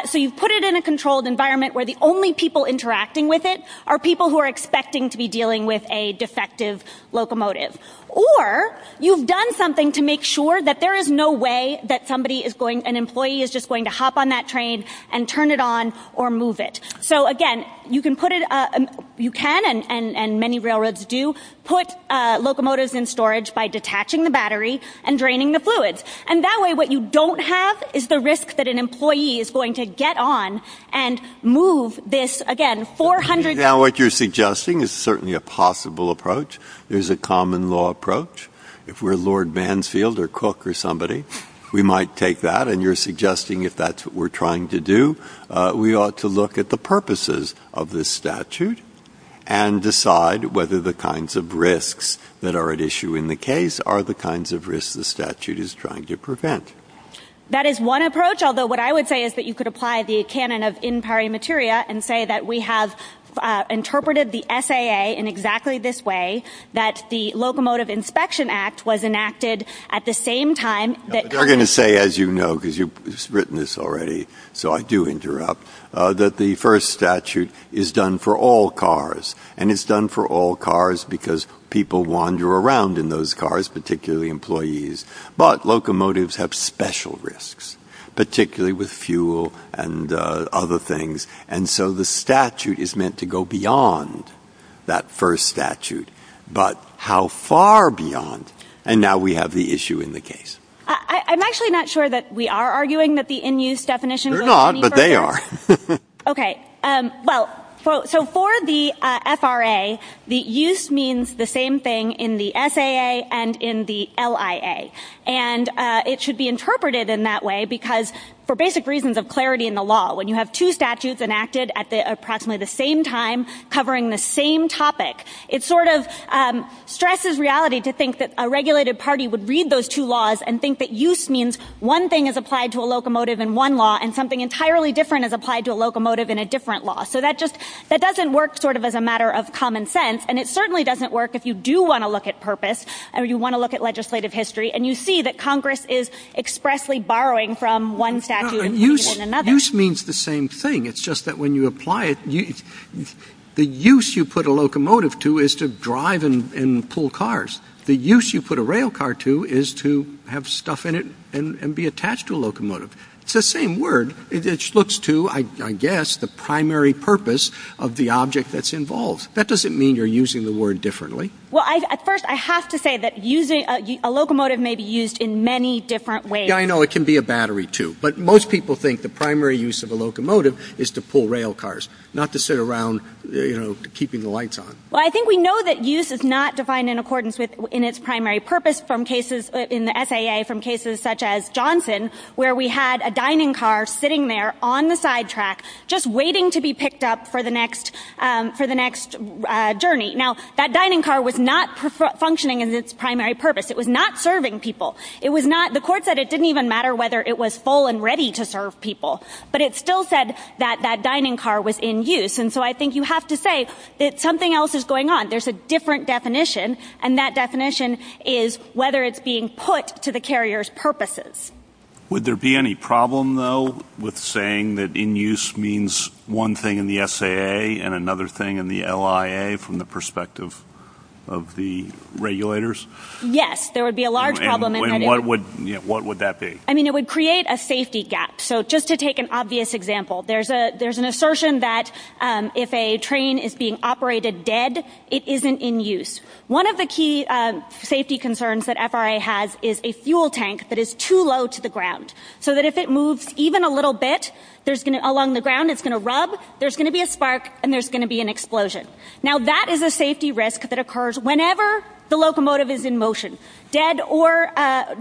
So you put it in a controlled environment where the only people interacting with it are people who are expecting to be dealing with a defective locomotive. Or you've done something to make sure that there is no way that an employee is just going to hop on that train and turn it on or move it. So again, you can, and many railroads do, put locomotives in storage by detaching the battery and draining the fluids. And that way what you don't have is the risk that an employee is going to get on and move this, again, 400... Now what you're suggesting is certainly a possible approach. There's a common law approach. If we're Lord Banfield or Cook or somebody, we might take that. And you're suggesting if that's what we're trying to do, we ought to look at the purposes of this statute and decide whether the kinds of risks that are at issue in the case are the kinds of risks the statute is trying to prevent. That is one approach. Although what I would say is that you could apply the canon of in pari materia and say that we have interpreted the SAA in exactly this way, that the Locomotive Inspection Act was enacted at the same time that... I'm going to say, as you know, because you've written this already, so I do interrupt, that the first statute is done for all cars. And it's done for all cars because people wander around in those cars, particularly employees. But locomotives have special risks, particularly with fuel and other things. And so the statute is meant to go beyond that first statute. But how far beyond? And now we have the issue in the case. I'm actually not sure that we are arguing that the in use definition... They're not, but they are. Okay. Well, so for the FRA, the use means the same thing in the SAA and in the LIA. And it should be interpreted in that way because for basic reasons of clarity in the law, when you have two statutes enacted at approximately the same time covering the same topic, it sort of stresses reality to think that a regulated party would read those two laws and think that use means one thing is applied to a locomotive in one law and something entirely different is applied to a locomotive in a different law. So that doesn't work sort of as a matter of common sense. And it certainly doesn't work if you do want to look at purpose, or you want to look at legislative history, and you see that Congress is expressly borrowing from one statute in another. Use means the same thing. It's just that when you apply it, the use you put a locomotive to is to drive and pull cars. The use you put a rail car to is to have stuff in it and be attached to a locomotive. It's the same word. It looks to, I guess, the primary purpose of the object that's involved. That doesn't mean you're using the word differently. Well, at first I have to say that a locomotive may be used in many different ways. Yeah, I know. It can be a battery too. But most people think the primary use of a locomotive is to pull rail cars, not to sit around keeping the lights on. Well, I think we know that use is not defined in accordance in its primary purpose in the FAA from cases such as Johnson, where we had a dining car sitting there on the sidetrack just waiting to be picked up for the next journey. Now, that dining car was not functioning in its primary purpose. It was not serving people. The court said it didn't even matter whether it was full and ready to serve people. But it still said that that dining car was in use. And so I think you have to say that something else is going on. There's a different definition, and that definition is whether it's being put to the carrier's purposes. Would there be any problem, though, with saying that in use means one thing in the FAA and another thing in the LIA from the perspective of the regulators? Yes. There would be a large problem. And what would that be? I mean, it would create a safety gap. So just to take an obvious example, there's an assertion that if a train is being operated dead, it isn't in use. One of the key safety concerns that FRA has is a fuel tank that is too low to the ground so that if it moves even a little bit along the ground, it's going to rub, there's going to be a spark, and there's going to be an explosion. Now, that is a safety risk that occurs whenever the locomotive is in motion. Dead or alive,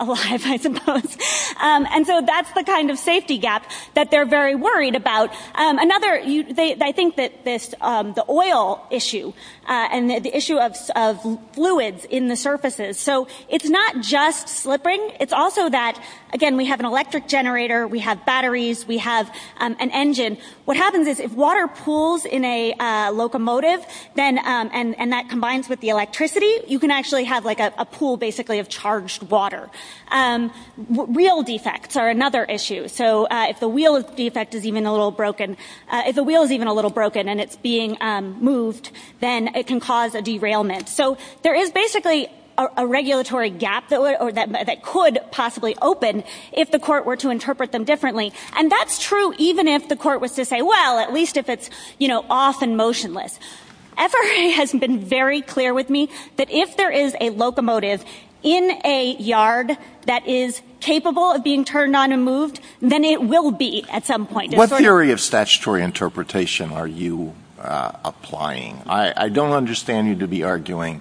I suppose. And so that's the kind of safety gap that they're very worried about. Another, they think that the oil issue and the issue of fluids in the surfaces. So it's not just slipping. It's also that, again, we have an electric generator, we have batteries, we have an engine. What happens is if water pools in a locomotive, and that combines with the electricity, you can actually have a pool basically of charged water. Wheel defects are another issue. So if the wheel defect is even a little broken, if the wheel is even a little broken and it's being moved, then it can cause a derailment. So there is basically a regulatory gap that could possibly open if the court were to interpret them differently. And that's true even if the court was to say, well, at least if it's off and motionless. FRA has been very clear with me that if there is a locomotive in a yard that is capable of being turned on and moved, then it will be at some point. What theory of statutory interpretation are you applying? I don't understand you to be arguing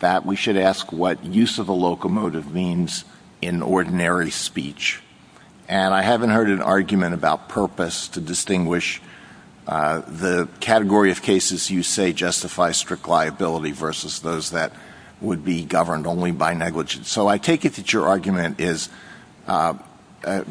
that we should ask what use of a locomotive means in ordinary speech. And I haven't heard an argument about purpose to distinguish the category of cases you say justify strict liability versus those that would be governed only by negligence. So I take it that your argument is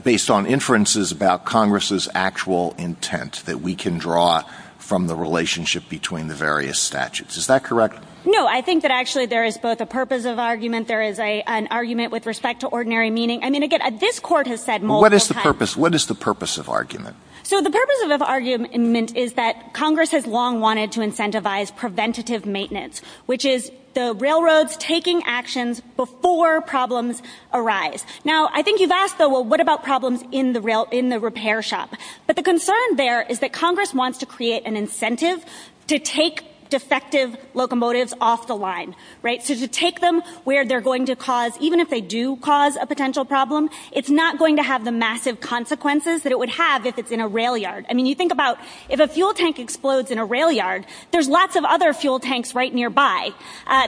based on inferences about Congress's actual intent that we can draw from the relationship between the various statutes. Is that correct? No, I think that actually there is both a purpose of argument. There is an argument with respect to ordinary meaning. I mean, again, this court has said more. What is the purpose? What is the purpose of argument? So the purpose of argument is that Congress has long wanted to incentivize preventative maintenance, which is the railroads taking actions before problems arise. Now, I think you've asked, well, what about problems in the rail, in the repair shop? But the concern there is that Congress wants to create an incentive to take defective locomotives off the line, right? To take them where they're going to cause, even if they do cause a potential problem, it's not going to have the massive consequences that it would have if it's in a rail yard. I mean, you think about if a fuel tank explodes in a rail yard, there's lots of other fuel tanks right nearby.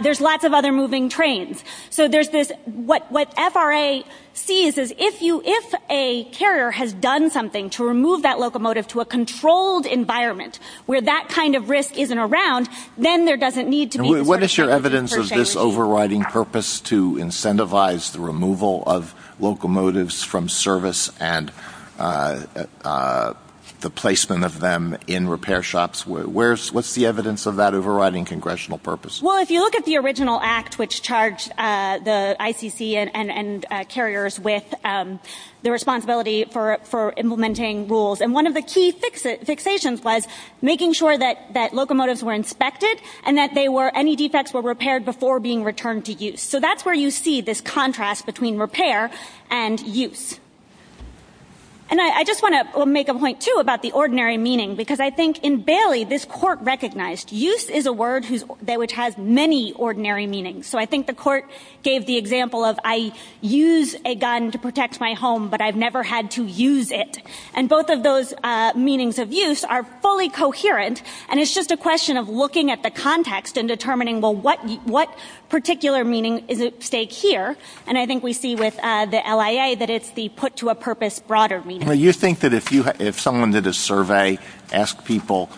There's lots of other moving trains. So there's this, what FRA sees is if you, if a carrier has done something to remove that locomotive to a controlled environment where that kind of risk isn't around, then there doesn't need to be. What is your evidence of this overriding purpose to incentivize the removal of locomotives from service and the placement of them in repair shops? What's the evidence of that overriding congressional purpose? Well, if you look at the original act, which charged the ICC and carriers with the responsibility for implementing rules. And one of the key fixations was making sure that locomotives were inspected and that they were, any defects were repaired before being returned to use. So that's where you see this contrast between repair and use. And I just want to make a point too about the ordinary meaning, because I think in Bailey, this court recognized use is a word that which has many ordinary meanings. So I think the court gave the example of I use a gun to protect my home, but I've never had to use it. And both of those meanings of use are fully coherent. And it's just a question of looking at the context and determining, well, what particular meaning is at stake here? And I think we see with the LIA that it's the put to a purpose broader meaning. Do you think that if someone did a survey, ask people,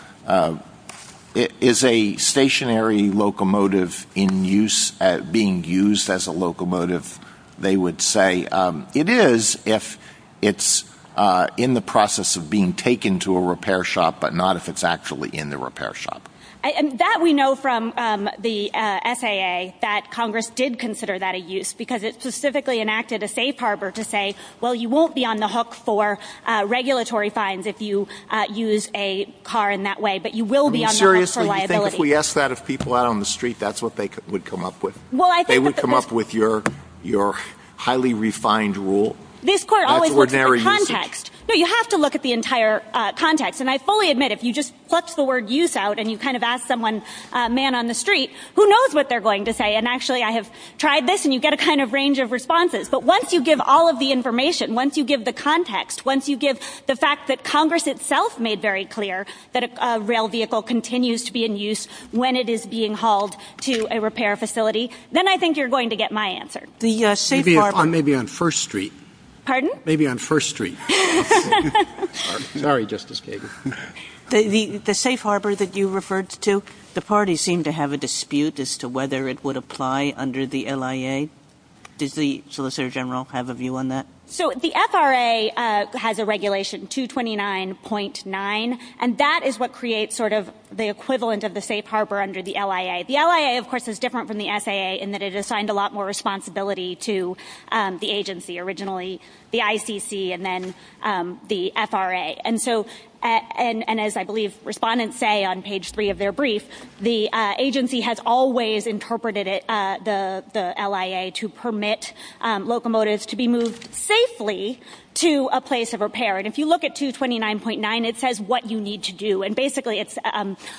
is a stationary locomotive in use, being used as a locomotive, they would say, it is if it's in the process of being taken to a repair shop, but not if it's actually in the repair shop. And that we know from the FAA that Congress did consider that a use because it specifically enacted a safe harbor to say, well, you won't be on the hook for regulatory fines if you use a car in that way, but you will be on the hook for liability. Are you serious that you think if we asked that of people out on the street, that's what they would come up with? They would come up with your highly refined rule? This court always looks at context. So you have to look at the entire context. And I fully admit, if you just put the word use out and you kind of ask someone, a man on the street, who knows what they're going to say? And actually, I have tried this and you get a kind of range of responses. But once you give all of the information, once you give the context, once you give the fact that Congress itself made very clear that a rail vehicle continues to be in use when it is being hauled to a repair facility, then I think you're going to get my answer. The safe harbor. Maybe on First Street. Pardon? Maybe on First Street. Sorry, Justice Kagan. The safe harbor that you referred to, the party seemed to have a dispute as to whether it would apply under the LIA. Does the Solicitor General have a view on that? So the FRA has a regulation 229.9, and that is what creates sort of the equivalent of the safe harbor under the LIA. The LIA, of course, is different from the SAA in that it assigned a lot more responsibility to the agency originally, the ICC, and then the FRA. And so, and as I believe respondents say on page three of their brief, the agency has always interpreted it, the LIA, to permit locomotives to be moved safely to a place of repair. And if you look at 229.9, it says what you need to do. And basically, it's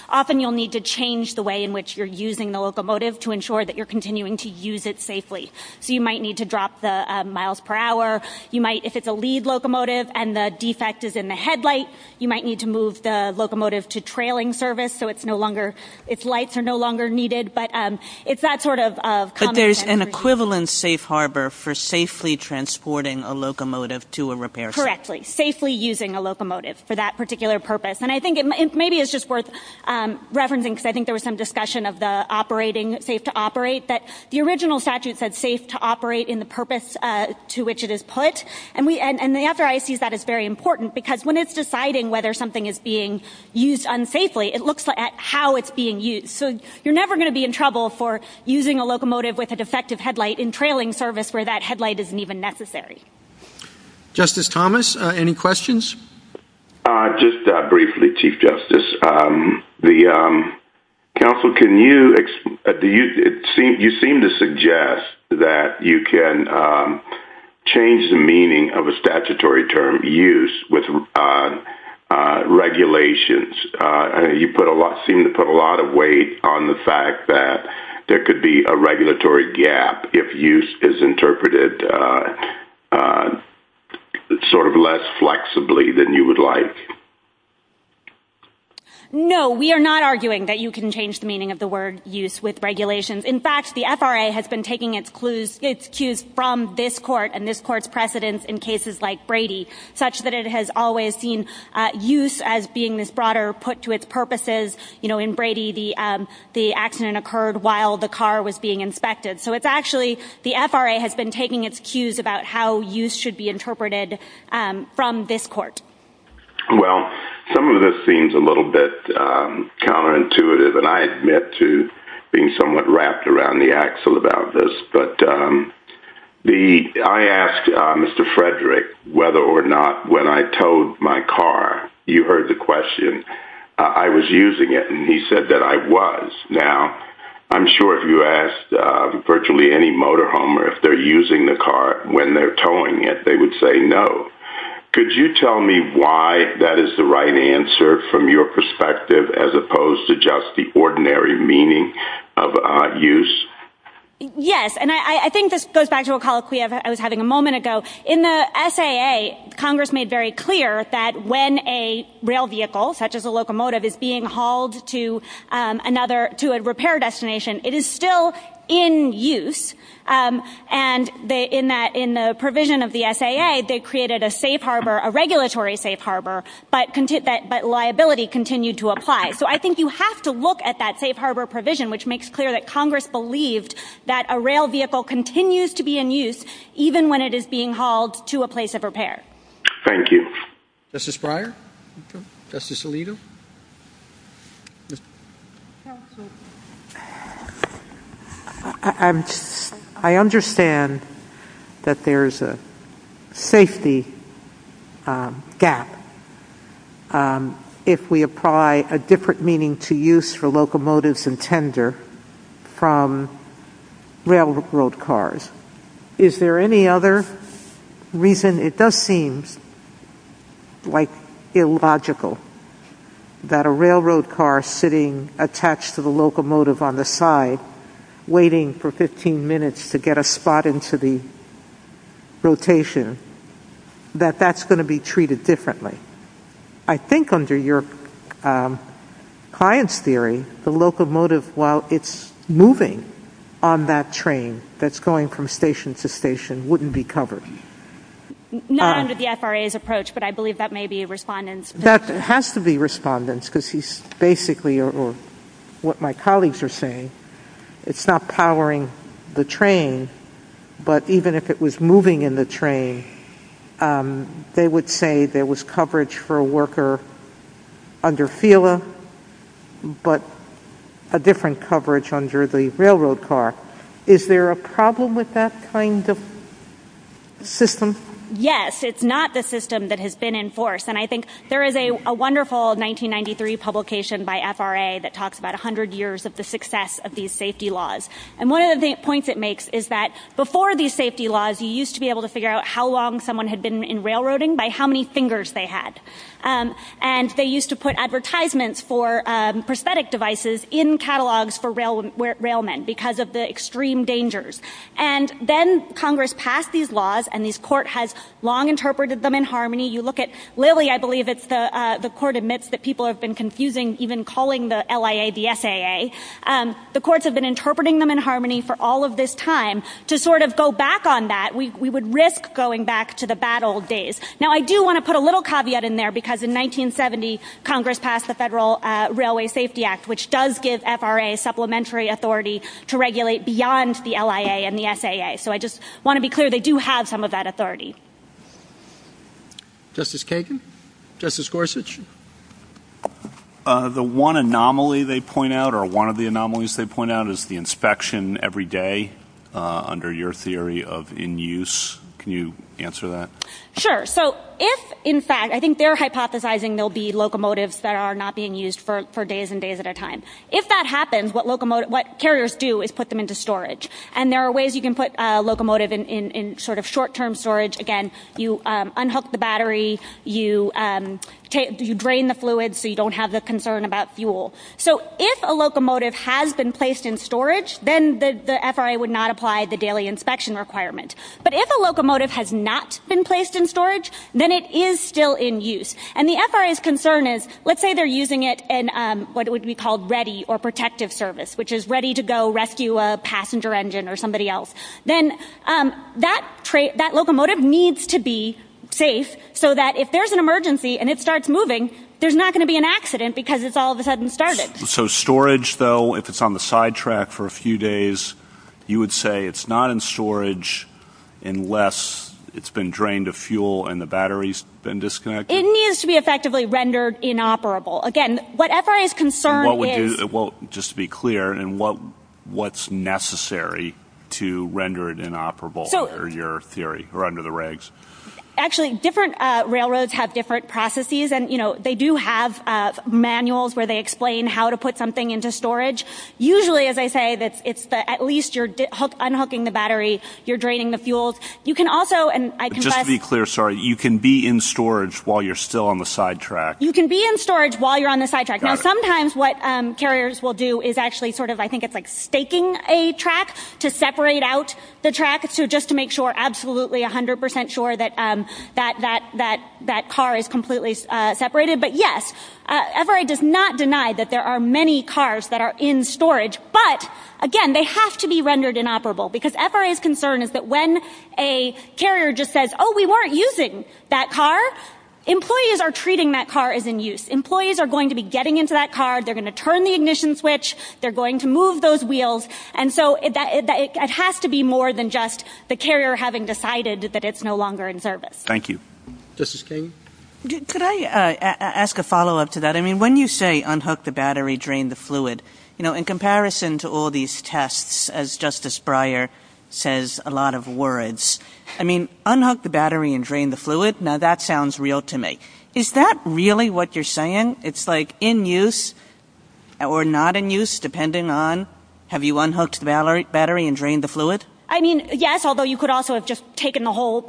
often you'll need to change the way in which you're using the locomotive to ensure that you're continuing to use it safely. So you might need to drop the miles per hour. You might, if it's a lead locomotive and the defect is in the headlight, you might need to move the locomotive to trailing service so it's no longer, its lights are no longer needed. But it's that sort of... But there's an equivalent safe harbor for safely transporting a locomotive to a repair site. Correctly. Safely using a locomotive for that particular purpose. And I think maybe it's just worth referencing because I think there was some discussion of the operating, safe to operate, that the original statute said safe to operate in the purpose to which it is put. And the FRA sees that as very important because when it's deciding whether something is being used unsafely, it looks at how it's being used. So you're never going to be in trouble for using a locomotive with a defective headlight in trailing service where that headlight isn't even necessary. Justice Thomas, any questions? Just briefly, Chief Justice. The counsel, can you... You seem to suggest that you can change the meaning of a statutory term use with regulations. You put a lot... Seem to put a lot of weight on the fact that there could be a regulatory gap if use is unsafely than you would like. No, we are not arguing that you can change the meaning of the word use with regulations. In fact, the FRA has been taking its cues from this court and this court's precedents in cases like Brady, such that it has always seen use as being this broader put to its purposes. You know, in Brady, the accident occurred while the car was being inspected. So it's actually the FRA has been taking its cues about how use should be interpreted from this court. Well, some of this seems a little bit counterintuitive, and I admit to being somewhat wrapped around the axle about this. But I asked Mr. Frederick whether or not when I towed my car, you heard the question, I was using it, and he said that I was. Now, I'm sure if you asked virtually any motor home or if they're using the car when they're not, they would probably know. Could you tell me why that is the right answer from your perspective, as opposed to just the ordinary meaning of use? Yes, and I think this goes back to a call I was having a moment ago. In the SAA, Congress made very clear that when a rail vehicle, such as a locomotive, is being hauled to another, to a repair destination, it is still in use. And in the provision of the SAA, they created a safe harbor, a regulatory safe harbor, but liability continued to apply. So I think you have to look at that safe harbor provision, which makes clear that Congress believed that a rail vehicle continues to be in use, even when it is being hauled to a place of repair. Thank you. Justice Breyer? Justice Alito? I understand that there's a safety gap if we apply a different meaning to use for locomotives and tender from railroad cars. Is there any other reason? It does seem like illogical that a railroad car sitting attached to the locomotive on the side, waiting for 15 minutes to get a spot into the rotation, that that's going to be treated differently. I think under your client's theory, the locomotive, while it's moving on that train that's going from station to station, wouldn't be covered. Not under the FRA's approach, but I believe that may be a respondent's. That has to be a respondent's, because he's basically, or what my colleagues are saying, it's not powering the train, but even if it was moving in the train, they would say there was coverage for a worker under FELA, but a different coverage under the railroad car. Is there a problem with that kind of system? Yes, it's not the system that has been enforced. I think there is a wonderful 1993 publication by FRA that talks about 100 years of the success of these safety laws. One of the points it makes is that before these safety laws, you used to be able to figure out how long someone had been in railroading by how many fingers they had. They used to put advertisements for prosthetic devices in catalogs for railmen because of the extreme dangers. Then Congress passed these laws, and this court has long interpreted them in harmony. You look at Lilly, I believe it's the court admits that people have been confusing even calling the LIA the SAA. The courts have been interpreting them in harmony for all of this time. To sort of go back on that, we would risk going back to the bad old days. Now I do want to put a little caveat in there, because in 1970, Congress passed the Federal Railway Safety Act, which does give FRA supplementary authority to regulate beyond the LIA and the SAA. So I just want to be clear, they do have some of that authority. Justice Kagan? Justice Gorsuch? The one anomaly they point out, or one of the anomalies they point out, is the inspection every day under your theory of in-use. Can you answer that? Sure. So if, in fact, I think they're hypothesizing there will be locomotives that are not being used for days and days at a time. If that happens, what carriers do is put them into storage. And there are ways you can put a locomotive in sort of short-term storage. Again, you unhook the battery, you drain the fluid so you don't have the concern about fuel. So if a locomotive has been placed in storage, then the FRA would not apply the daily inspection requirement. But if a locomotive has not been placed in storage, then it is still in use. And the FRA's concern is, let's say they're using it in what would be called ready or protective service, which is ready to go rescue a passenger engine or somebody else. Then that locomotive needs to be safe so that if there's an emergency and it starts moving, there's not going to be an accident because it's all of a sudden started. So storage, though, if it's on the sidetrack for a few days, you would say it's not in storage unless it's been drained of fuel and the battery's been disconnected? It needs to be effectively rendered inoperable. Again, what FRA's concern is— And what would you—well, just to be clear, and what's necessary to render it inoperable or your theory or under the regs? Actually, different railroads have different processes. And, you know, they do have manuals where they explain how to put something into storage. Usually, as I say, it's at least you're unhooking the battery, you're draining the fuel. You can also— You can be in storage while you're still on the sidetrack? You can be in storage while you're on the sidetrack. Now, sometimes what carriers will do is actually sort of—I think it's like staking a track to separate out the track just to make sure, absolutely, 100 percent sure that that car is completely separated. But, yes, FRA does not deny that there are many cars that are in storage. But, again, they have to be rendered inoperable because FRA's concern is that when a carrier just says, oh, we weren't using that car, employees are treating that car as in use. Employees are going to be getting into that car. They're going to turn the ignition switch. They're going to move those wheels. And so it has to be more than just the carrier having decided that it's no longer in service. Thank you. Justice King? Could I ask a follow-up to that? I mean, when you say unhook the battery, drain the fluid, you know, in comparison to all as Justice Breyer says a lot of words. I mean, unhook the battery and drain the fluid? Now, that sounds real to me. Is that really what you're saying? It's like in use or not in use, depending on have you unhooked the battery and drained the fluid? I mean, yes, although you could also have just taken the whole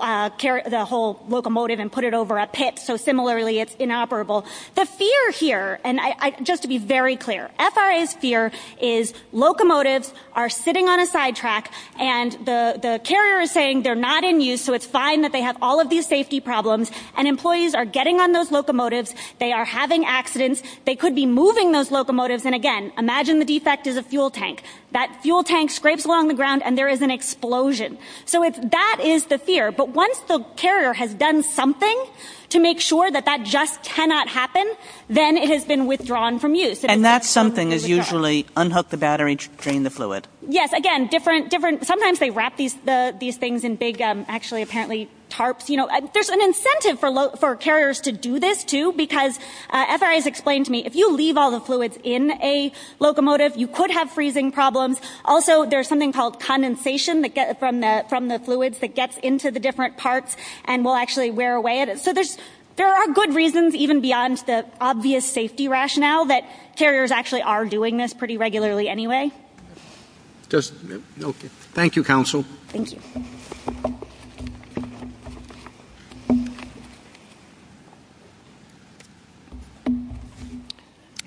locomotive and put it over a pit. So, similarly, it's inoperable. The fear here, and just to be very clear, FRA's fear is locomotives are sitting on a sidetrack, and the carrier is saying they're not in use, so it's fine that they have all of these safety problems. And employees are getting on those locomotives. They are having accidents. They could be moving those locomotives. And again, imagine the defect is a fuel tank. That fuel tank scrapes along the ground, and there is an explosion. So that is the fear. But once the carrier has done something to make sure that that just cannot happen, then it has been withdrawn from use. And that something is usually unhook the battery and drain the fluid? Yes, again, sometimes they wrap these things in big, actually, apparently, tarps. There's an incentive for carriers to do this, too, because FRA's explained to me, if you leave all the fluids in a locomotive, you could have freezing problems. Also, there's something called condensation from the fluids that gets into the different parts and will actually wear away. So there are good reasons, even beyond the obvious safety rationale, that carriers actually are doing this pretty regularly anyway. Thank you, counsel.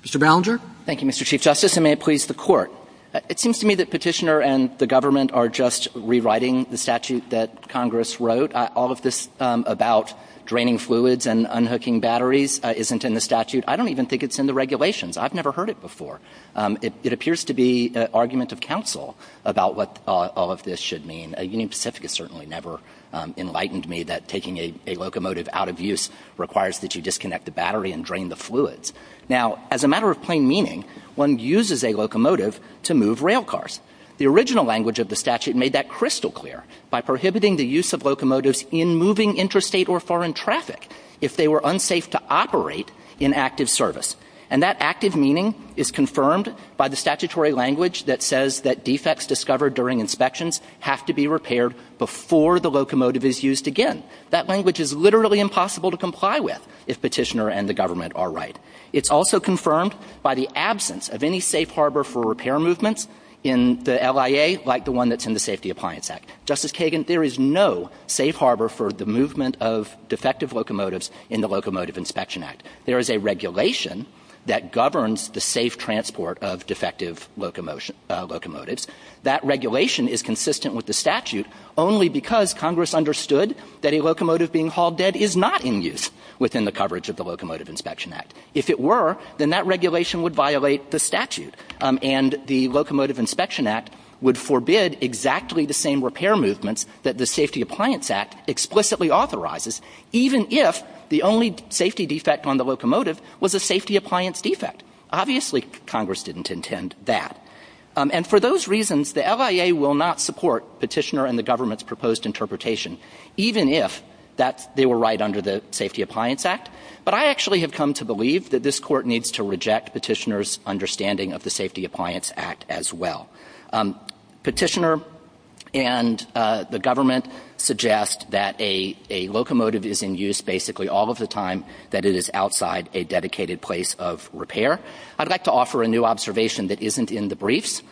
Mr. Ballinger? Thank you, Mr. Chief Justice, and may it please the Court. It seems to me that Petitioner and the government are just rewriting the statute that Congress wrote. All of this about draining fluids and unhooking batteries isn't in the statute. I don't even think it's in the regulations. I've never heard it before. It appears to be arguments of counsel about what all of this should mean. Union Pacific has certainly never enlightened me that taking a locomotive out of use requires that you disconnect the battery and drain the fluids. Now, as a matter of plain meaning, one uses a locomotive to move railcars. The original language of the statute made that crystal clear by prohibiting the use of locomotives in moving interstate or foreign traffic if they were unsafe to operate in active service. And that active meaning is confirmed by the statutory language that says that defects discovered during inspections have to be repaired before the locomotive is used again. That language is literally impossible to comply with if Petitioner and the government are It's also confirmed by the absence of any safe harbor for repair movements in the LIA, like the one that's in the Safety Appliance Act. Justice Kagan, there is no safe harbor for the movement of defective locomotives in the Locomotive Inspection Act. There is a regulation that governs the safe transport of defective locomotives. That regulation is consistent with the statute only because Congress understood that a locomotive being hauled dead is not in use within the coverage of the Locomotive Inspection Act. If it were, then that regulation would violate the statute and the Locomotive Inspection Act would forbid exactly the same repair movements that the Safety Appliance Act explicitly authorizes even if the only safety defect on the locomotive was a safety appliance defect. Obviously, Congress didn't intend that. And for those reasons, the LIA will not support Petitioner and the government's proposed even if they were right under the Safety Appliance Act. But I actually have come to believe that this court needs to reject Petitioner's understanding of the Safety Appliance Act as well. Petitioner and the government suggest that a locomotive is in use basically all of the time that it is outside a dedicated place of repair. I'd like to offer a new observation that isn't in the briefs.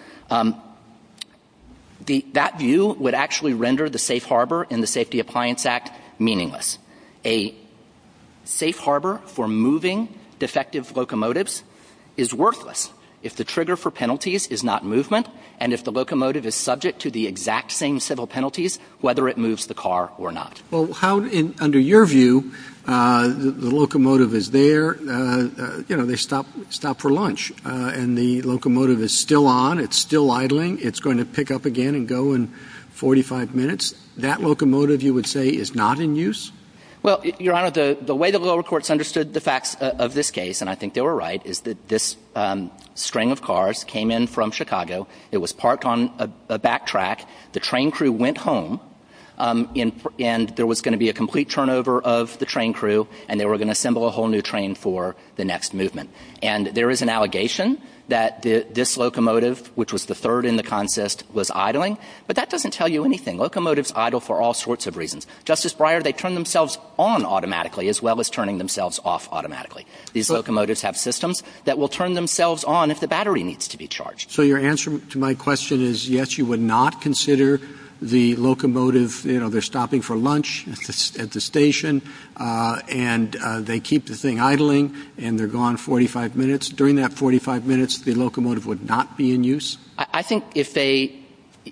That view would actually render the safe harbor in the Safety Appliance Act meaningless. A safe harbor for moving defective locomotives is worthless if the trigger for penalties is not movement and if the locomotive is subject to the exact same civil penalties, whether it moves the car or not. Well, how, under your view, the locomotive is there, you know, they stop for lunch and the locomotive is still on. It's still idling. It's going to pick up again and go in 45 minutes. That locomotive, you would say, is not in use? Well, Your Honor, the way the lower courts understood the facts of this case, and I think they were right, is that this string of cars came in from Chicago. It was parked on a back track. The train crew went home and there was going to be a complete turnover of the train crew and they were going to assemble a whole new train for the next movement. And there is an allegation that this locomotive, which was the third in the contest, was idling. But that doesn't tell you anything. Locomotives idle for all sorts of reasons. Justice Breyer, they turn themselves on automatically, as well as turning themselves off automatically. These locomotives have systems that will turn themselves on if the battery needs to be charged. So your answer to my question is yes, you would not consider the locomotive, you know, they're stopping for lunch at the station and they keep the thing idling and they're gone 45 minutes. During that 45 minutes, the locomotive would not be in use? I think if they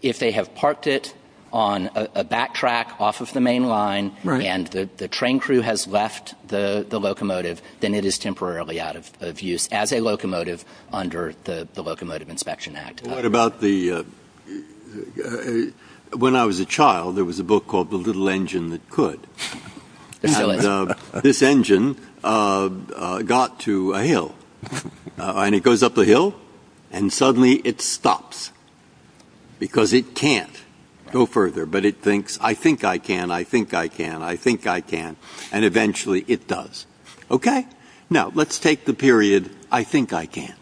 have parked it on a back track off of the main line and the train crew has left the locomotive, then it is temporarily out of use as a locomotive under the Locomotive Inspection Act. What about the... When I was a child, there was a book called The Little Engine That Could. And this engine got to a hill. And it goes up the hill and suddenly it stops. Because it can't go further. But it thinks, I think I can, I think I can, I think I can. And eventually it does. Okay, now let's take the period, I think I can.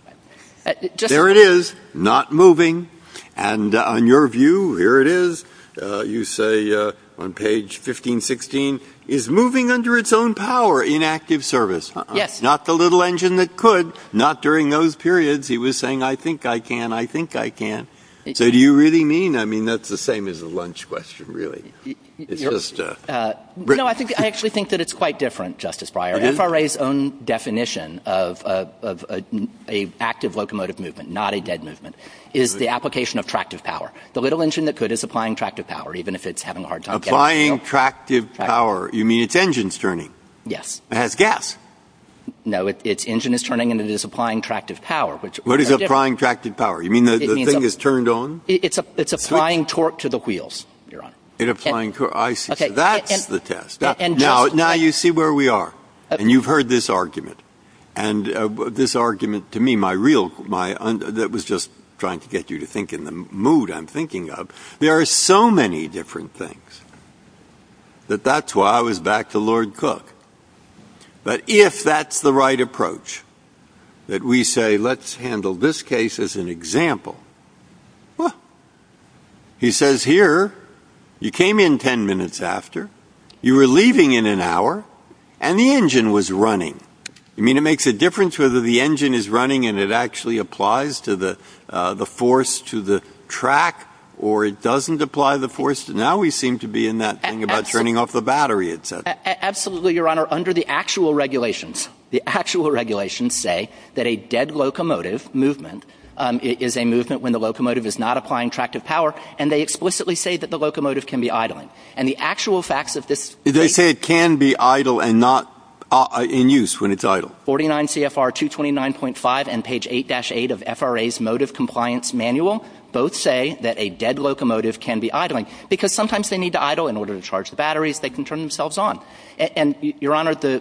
There it is, not moving. And on your view, here it is. You say on page 1516, is moving under its own power in active service. Not The Little Engine That Could, not during those periods. He was saying, I think I can, I think I can. So do you really mean? I mean, that's the same as a lunch question, really. No, I actually think that it's quite different, Justice Breyer. FRA's own definition of an active locomotive movement, not a dead movement, is the application of tractive power. The Little Engine That Could is applying tractive power, even if it's having a hard time. Applying tractive power, you mean its engine's turning? Yes. It has gas. No, its engine is turning and it is applying tractive power. What is applying tractive power? You mean the thing is turned on? It's applying torque to the wheels, Your Honor. It's applying torque, I see. That's the test. Now you see where we are. And you've heard this argument. And this argument, to me, my real, that was just trying to get you to think in the mood, there are so many different things that that's why I was back to Lord Cook. But if that's the right approach, that we say, let's handle this case as an example, he says, here, you came in 10 minutes after, you were leaving in an hour, and the engine was running. I mean, it makes a difference whether the engine is running and it actually applies the force to the track, or it doesn't apply the force. Now we seem to be in that thing about turning off the battery, et cetera. Absolutely, Your Honor, under the actual regulations, the actual regulations say that a dead locomotive movement is a movement when the locomotive is not applying tractive power. And they explicitly say that the locomotive can be idling. And the actual facts of this. They say it can be idle and not in use when it's idle. 49 CFR 229.5 and page 8-8 of FRA's motive compliance manual, both say that a dead locomotive can be idling because sometimes they need to idle in order to charge the batteries, they can turn themselves on. And Your Honor, the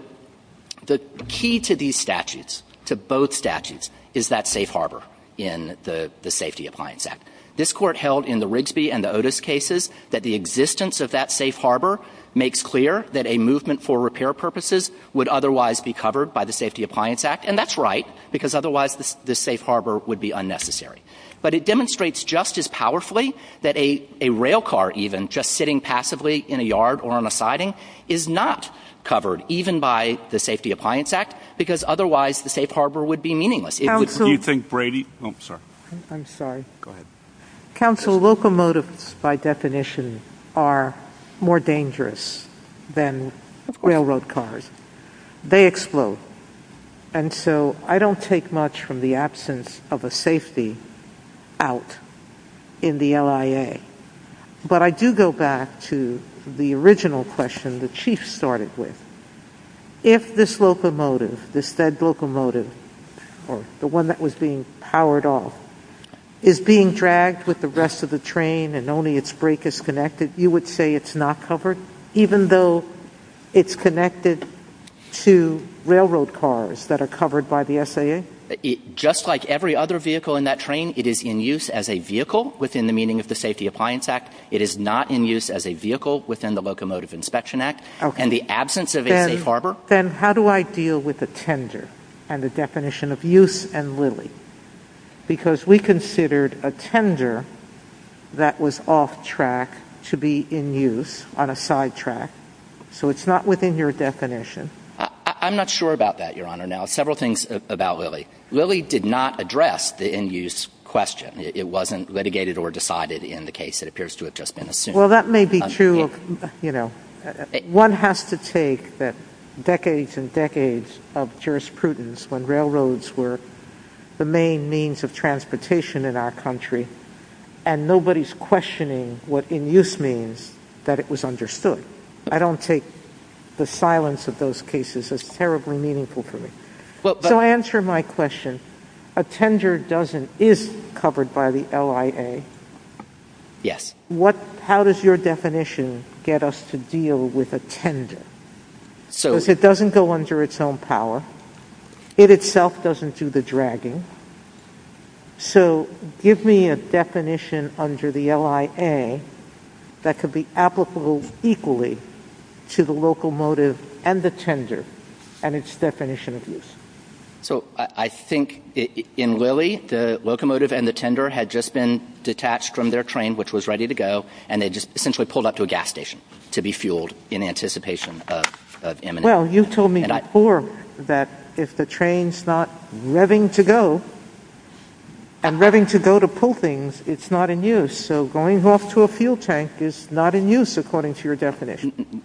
key to these statutes, to both statutes, is that safe harbor in the Safety Appliance Act. This court held in the Rigsby and the Otis cases that the existence of that safe harbor makes clear that a movement for repair purposes would otherwise be covered by the Safety Appliance Act. And that's right, because otherwise the safe harbor would be unnecessary. But it demonstrates just as powerfully that a rail car even, just sitting passively in a yard or on a siding, is not covered, even by the Safety Appliance Act, because otherwise the safe harbor would be meaningless. Counsel, locomotives, by definition, are more dangerous than railroad cars. They explode. And so I don't take much from the absence of a safety out in the LIA. But I do go back to the original question the Chief started with. If this locomotive, this fed locomotive, the one that was being powered off, is being dragged with the rest of the train and only its brake is connected, you would say it's not covered, even though it's connected to railroad cars that are covered by the SAA? Just like every other vehicle in that train, it is in use as a vehicle within the meaning of the Safety Appliance Act. It is not in use as a vehicle within the Locomotive Inspection Act. In the absence of a safe harbor? Then how do I deal with a tender and the definition of use and Lilly? Because we considered a tender that was off track to be in use on a sidetrack. So it's not within your definition. I'm not sure about that, Your Honor. Now, several things about Lilly. Lilly did not address the in-use question. It wasn't litigated or decided in the case. It appears to have just been assumed. That may be true. One has to take that decades and decades of jurisprudence when railroads were the main means of transportation in our country, and nobody's questioning what in-use means, that it was understood. I don't take the silence of those cases as terribly meaningful to me. To answer my question, a tender is covered by the LIA. Yes. What, how does your definition get us to deal with a tender? So it doesn't go under its own power. It itself doesn't do the dragging. So give me a definition under the LIA that could be applicable equally to the locomotive and the tender and its definition of use. So I think in Lilly, the locomotive and the tender had just been detached from their train, which was ready to go, and they just essentially pulled up to a gas station to be fueled in anticipation of eminence. Well, you told me before that if the train's not revving to go and revving to go to pull things, it's not in use. So going off to a fuel tank is not in use, according to your definition.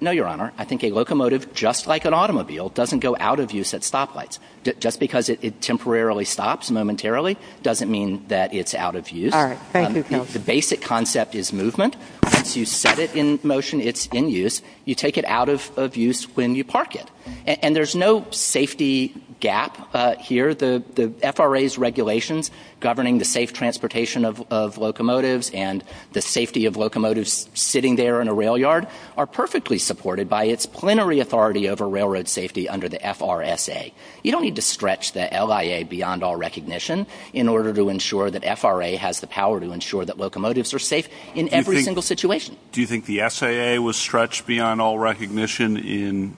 No, Your Honor. I think a locomotive, just like an automobile, doesn't go out of use at stoplights. Just because it temporarily stops momentarily doesn't mean that it's out of use. The basic concept is movement. Once you set it in motion, it's in use. You take it out of use when you park it. And there's no safety gap here. The FRA's regulations governing the safe transportation of locomotives and the safety of locomotives sitting there in a rail yard are perfectly supported by its plenary authority over railroad safety under the FRSA. You don't need to stretch the LIA beyond all recognition in order to ensure that FRA has the power to ensure that locomotives are safe in every single situation. Do you think the SAA was stretched beyond all recognition in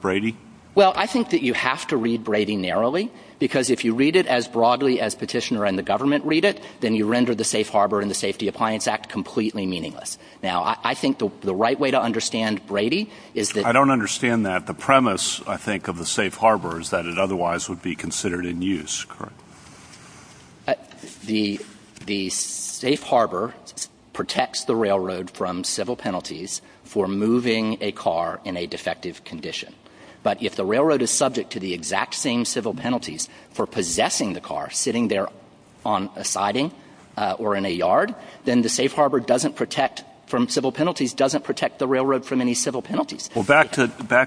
Brady? Well, I think that you have to read Brady narrowly, because if you read it as broadly as Petitioner and the government read it, then you render the Safe Harbor and the Safety Appliance Act completely meaningless. Now, I think the right way to understand Brady is that... I don't understand that. The premise, I think, of the Safe Harbor is that it otherwise would be considered in use, correct? The Safe Harbor protects the railroad from civil penalties for moving a car in a defective condition. But if the railroad is subject to the exact same civil penalties for possessing the car sitting there on a siding or in a yard, then the Safe Harbor doesn't protect from civil penalties, doesn't protect the railroad from any civil penalties. Well, back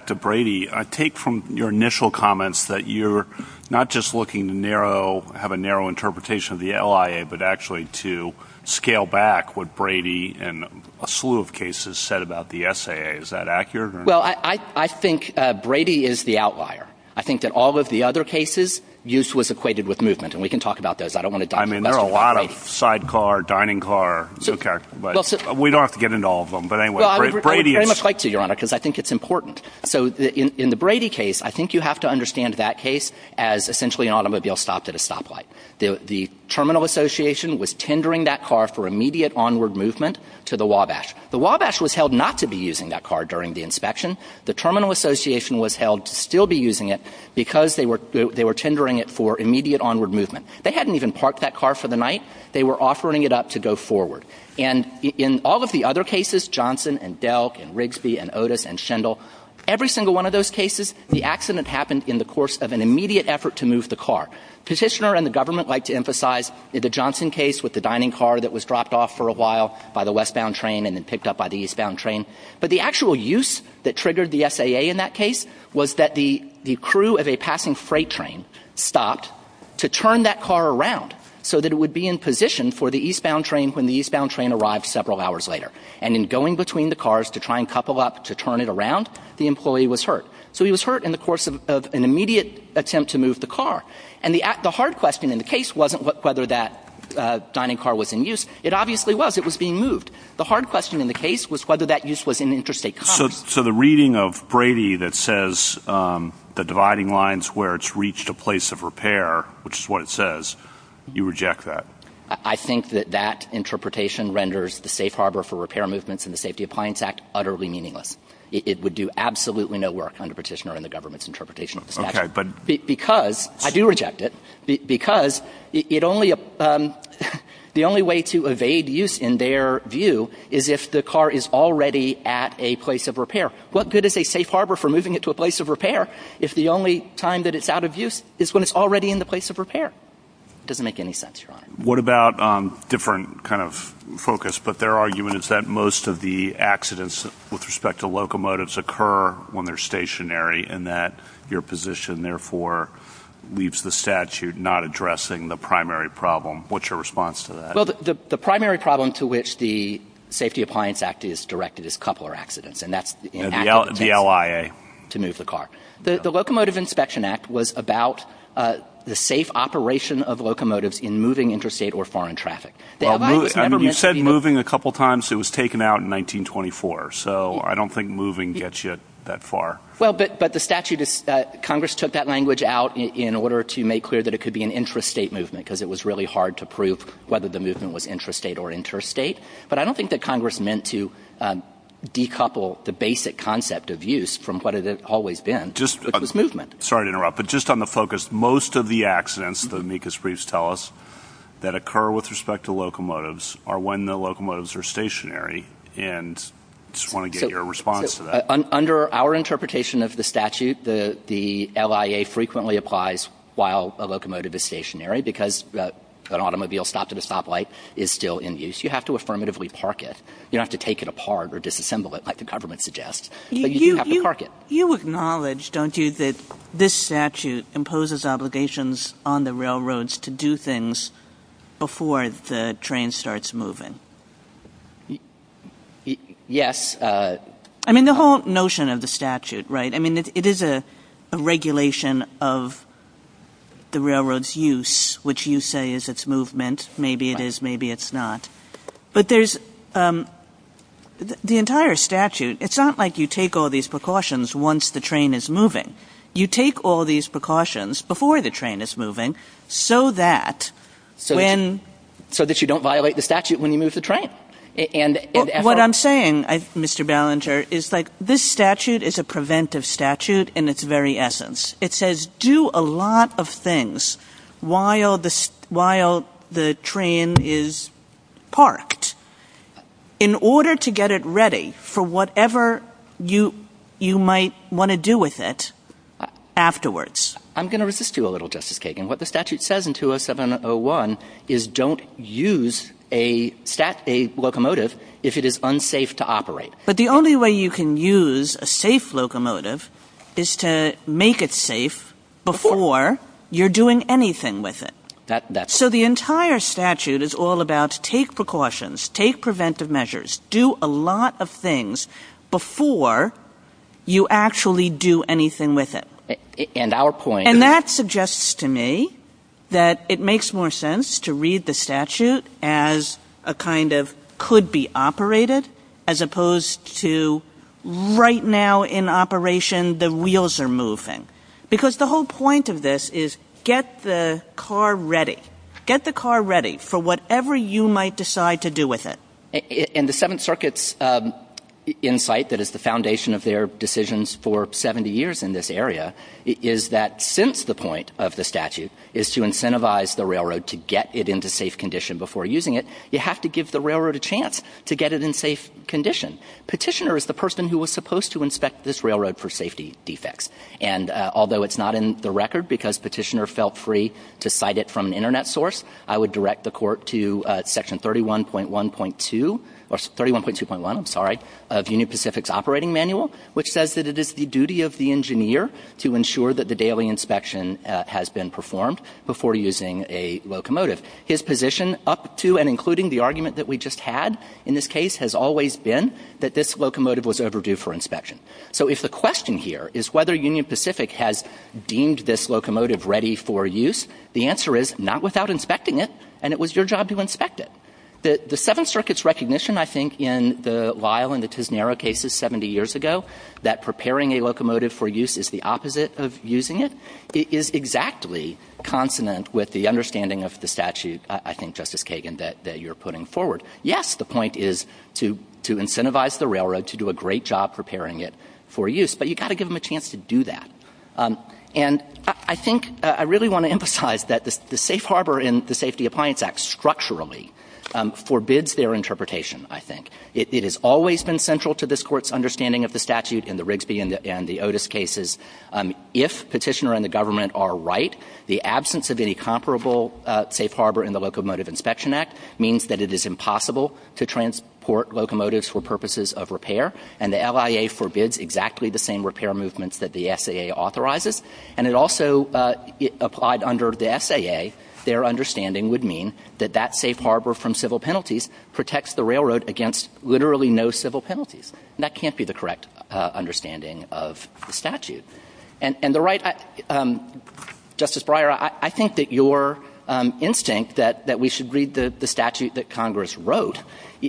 to Brady, I take from your initial comments that you're not just looking to have a narrow interpretation of the LIA, but actually to scale back what Brady and a slew of cases said about the SAA. Is that accurate? Well, I think Brady is the outlier. I think that all of the other cases, use was equated with movement. And we can talk about those. I don't want to... I mean, there are a lot of sidecar, dining car... We don't have to get into all of them. But anyway, Brady is... I would very much like to, Your Honor, because I think it's important. So in the Brady case, I think you have to understand that case as essentially an automobile stopped at a stoplight. The terminal association was tendering that car for immediate onward movement to the Wabash. The Wabash was held not to be using that car during the inspection. The terminal association was held to still be using it because they were tendering it for immediate onward movement. They hadn't even parked that car for the night. They were offering it up to go forward. And in all of the other cases, Johnson and Delk and Rigsby and Otis and Schindle, every single one of those cases, the accident happened in the course of an immediate effort to move the car. Petitioner and the government like to emphasize the Johnson case with the dining car that was dropped off for a while by the westbound train and then picked up by the eastbound train. But the actual use that triggered the SAA in that case was that the crew of a passing freight train stopped to turn that car around so that it would be in position for the eastbound train when the eastbound train arrived several hours later. And in going between the cars to try and couple up to turn it around, the employee was hurt. So he was hurt in the course of an immediate attempt to move the car. And the hard question in the case wasn't whether that dining car was in use. It obviously was. It was being moved. The hard question in the case was whether that use was in the interest of a company. So the reading of Brady that says the dividing lines where it's reached a place of repair, which is what it says, you reject that? I think that that interpretation renders the safe harbor for repair movements in the Safety Appliance Act utterly meaningless. It would do absolutely no work under Petitioner and the government's interpretation. Because, I do reject it, because the only way to evade use in their view is if the car is already at a place of repair. What good is a safe harbor for moving it to a place of repair if the only time that it's out of use is when it's already in the place of repair? It doesn't make any sense, Your Honor. What about a different kind of focus, but their argument is that most of the accidents with respect to locomotives occur when they're stationary, and that your position, therefore, leaves the statute not addressing the primary problem. What's your response to that? Well, the primary problem to which the Safety Appliance Act is directed is coupler accidents, and that's the LIA to move the car. The Locomotive Inspection Act was about the safe operation of locomotives in moving interstate or foreign traffic. You said moving a couple times. It was taken out in 1924, so I don't think moving gets you that far. Well, but the statute, Congress took that language out in order to make clear that it could be an intrastate movement, because it was really hard to prove whether the movement was intrastate or interstate. But I don't think that Congress meant to decouple the basic concept of use from what it had always been, which was movement. Sorry to interrupt, but just on the focus, most of the accidents, the amicus briefs tell that occur with respect to locomotives are when the locomotives are stationary, and I just want to get your response to that. Under our interpretation of the statute, the LIA frequently applies while a locomotive is stationary, because an automobile stops at a stoplight is still in use. You have to affirmatively park it. You don't have to take it apart or disassemble it like the government suggests. You acknowledge, don't you, that this statute imposes obligations on the railroads to do things before the train starts moving? Yes. I mean, the whole notion of the statute, right? I mean, it is a regulation of the railroad's use, which you say is its movement. Maybe it is, maybe it's not. But there's the entire statute. It's not like you take all these precautions once the train is moving. You take all these precautions before the train is moving so that you don't violate the statute when you move the train. What I'm saying, Mr. Ballenger, is this statute is a preventive statute in its very essence. It says do a lot of things while the train is parked in order to get it ready for whatever you might want to do with it afterwards. I'm going to resist you a little, Justice Kagan. What the statute says in 207-01 is don't use a locomotive if it is unsafe to operate. But the only way you can use a safe locomotive is to make it safe before you're doing anything with it. So the entire statute is all about take precautions, take preventive measures, do a lot of things before you actually do anything with it. And that suggests to me that it makes more sense to read the statute as a kind of could be operated as opposed to right now in operation the wheels are moving. Because the whole point of this is get the car ready. Get the car ready for whatever you might decide to do with it. And the Seventh Circuit's insight that is the foundation of their decisions for 70 years in this area is that since the point of the statute is to incentivize the railroad to get it into safe condition before using it, you have to give the railroad a chance to get it in safe condition. Petitioner is the person who was supposed to inspect this railroad for safety defects. And although it's not in the record because Petitioner felt free to cite it from an internet source, I would direct the court to section 31.2.1 of Union Pacific's operating manual, which says that it is the duty of the engineer to ensure that the daily inspection has been performed before using a locomotive. His position up to and including the argument that we just had in this case has always been that this locomotive was overdue for inspection. So if the question here is whether Union Pacific has deemed this locomotive ready for use, the answer is not without inspecting it, and it was your job to inspect it. The Seventh Circuit's recognition, I think, in the Lyle and the Tisnero cases 70 years ago that preparing a locomotive for use is the opposite of using it is exactly consonant with the understanding of the statute, I think, Justice Kagan, that you're putting forward. Yes, the point is to incentivize the railroad to do a great job preparing it for use, but you've got to give them a chance to do that. And I think I really want to emphasize that the safe harbor in the Safety Appliance Act structurally forbids their interpretation, I think. It has always been central to this court's understanding of the statute in the Rigsby and the Otis cases. If Petitioner and the government are right, the absence of any comparable safe harbor in the Locomotive Inspection Act means that it is impossible to transport locomotives for purposes of repair, and the LIA forbids exactly the same repair movements that the And it also applied under the SAA, their understanding would mean that that safe harbor from civil penalties protects the railroad against literally no civil penalties. That can't be the correct understanding of the statute. And the right, Justice Breyer, I think that your instinct that we should read the statute that Congress wrote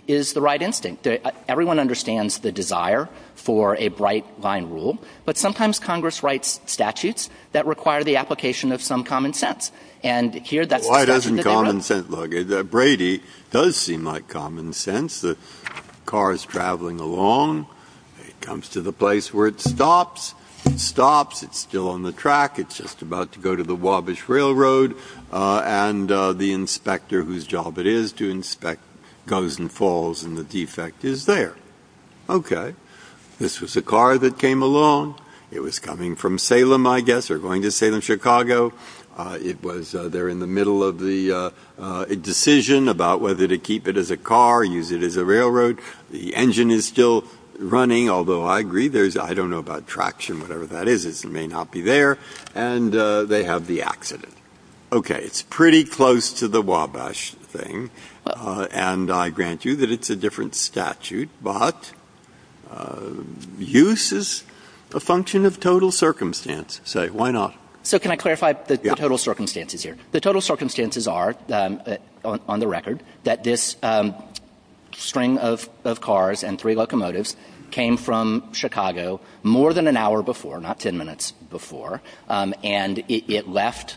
is the right instinct. Everyone understands the desire for a bright line rule. But sometimes Congress writes statutes that require the application of some common sense. And here, that's the statute that they wrote. Why doesn't common sense? Look, Brady does seem like common sense. The car is traveling along. It comes to the place where it stops. It stops. It's still on the track. It's just about to go to the Wabash Railroad. And the inspector, whose job it is to inspect, goes and falls, and the defect is there. Okay. This was a car that came along. It was coming from Salem, I guess, or going to Salem, Chicago. It was there in the middle of the decision about whether to keep it as a car, use it as a railroad. The engine is still running, although I agree, I don't know about traction, whatever that is. It may not be there. And they have the accident. Okay. It's pretty close to the Wabash thing. And I grant you that it's a different statute. But use is a function of total circumstance. So why not? So can I clarify the total circumstances here? The total circumstances are, on the record, that this string of cars and three locomotives came from Chicago more than an hour before, not 10 minutes before. And it left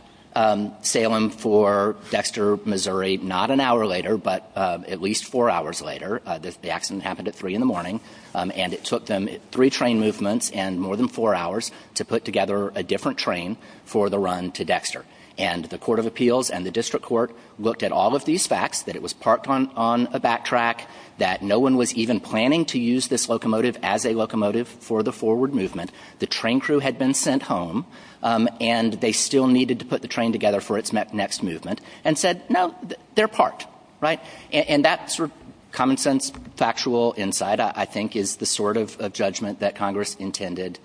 Salem for Dexter, Missouri, not an hour later, but at least four hours later. The accident happened at 3 in the morning. And it took them three train movements and more than four hours to put together a different train for the run to Dexter. And the Court of Appeals and the District Court looked at all of these facts, that it was parked on a backtrack, that no one was even planning to use this locomotive as a locomotive for the forward movement. The train crew had been sent home, and they still needed to put the train together for its next movement, and said, no, they're parked, right? And that sort of common-sense, factual insight, I think, is the sort of judgment that Congress intended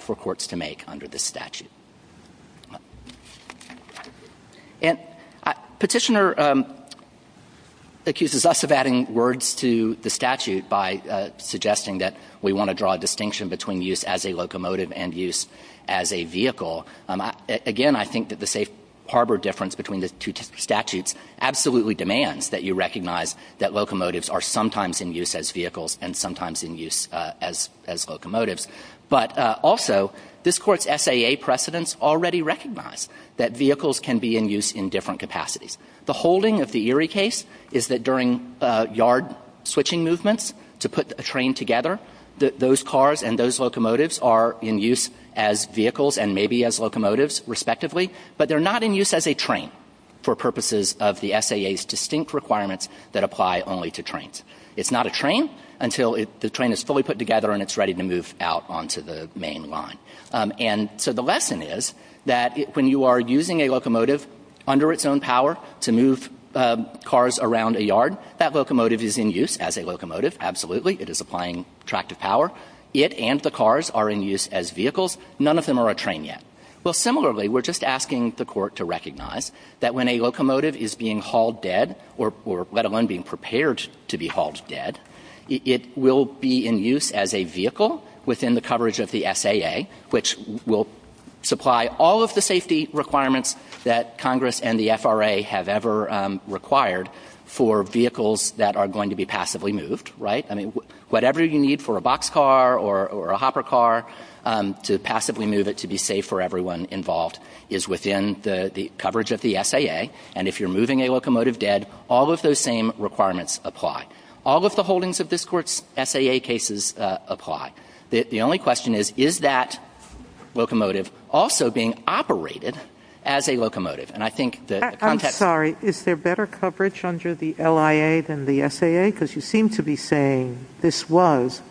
for courts to make under this statute. And Petitioner accuses us of adding words to the statute by suggesting that we want to draw a distinction between use as a locomotive and use as a vehicle. Again, I think that the safe harbor difference between the two statutes absolutely demands that you recognize that locomotives are sometimes in use as vehicles and sometimes in use as locomotives. But also, this court's SAA precedents already recognize that vehicles can be in use in different capacities. The holding of the Erie case is that during yard switching movements, to put a train together, those cars and those locomotives are in use as vehicles and maybe as locomotives, respectively, but they're not in use as a train for purposes of the SAA's distinct requirements that apply only to trains. It's not a train until the train is fully put together and it's ready to move out onto the main line. And so the lesson is that when you are using a locomotive under its own power to move cars around a yard, that locomotive is in use as a locomotive, absolutely, it is applying tractive power. It and the cars are in use as vehicles. None of them are a train yet. Well, similarly, we're just asking the court to recognize that when a locomotive is being hauled dead, or let alone being prepared to be hauled dead, it will be in use as a vehicle within the coverage of the SAA, which will supply all of the safety requirements that Congress and the FRA have ever required for vehicles that are going to be passively moved, right? I mean, whatever you need for a boxcar or a hopper car to passively move it to be safe for everyone involved is within the coverage of the SAA. And if you're moving a locomotive dead, all of those same requirements apply. All of the holdings of this court's SAA cases apply. The only question is, is that locomotive also being operated as a locomotive? I'm sorry. Is there better coverage under the LIA than the SAA? Because you seem to be saying this was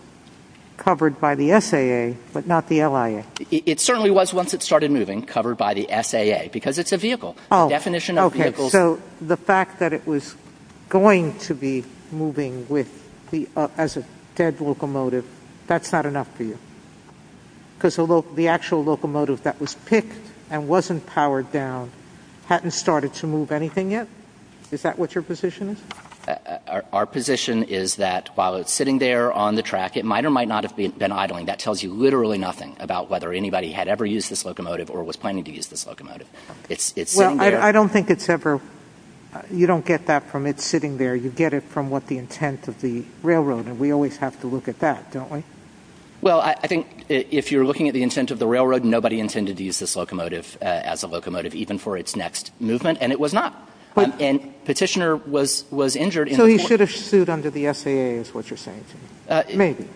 covered by the SAA, but not the LIA. It certainly was once it started moving, covered by the SAA, because it's a vehicle. Oh, okay. So the fact that it was going to be moving as a dead locomotive, that's not enough for you? Because the actual locomotive that was picked and wasn't powered down hadn't started to move anything yet? Is that what your position is? Our position is that while it's sitting there on the track, it might or might not have been idling. That tells you literally nothing about whether anybody had ever used this locomotive or was planning to use this locomotive. Well, I don't think it's ever... You don't get that from it sitting there. You get it from what the intent of the railroad. And we always have to look at that, don't we? Well, I think if you're looking at the intent of the railroad, nobody intended to use this locomotive as a locomotive, even for its next movement, and it was not. And Petitioner was injured... So he should have stood under the SAA, is what you're saying. Maybe.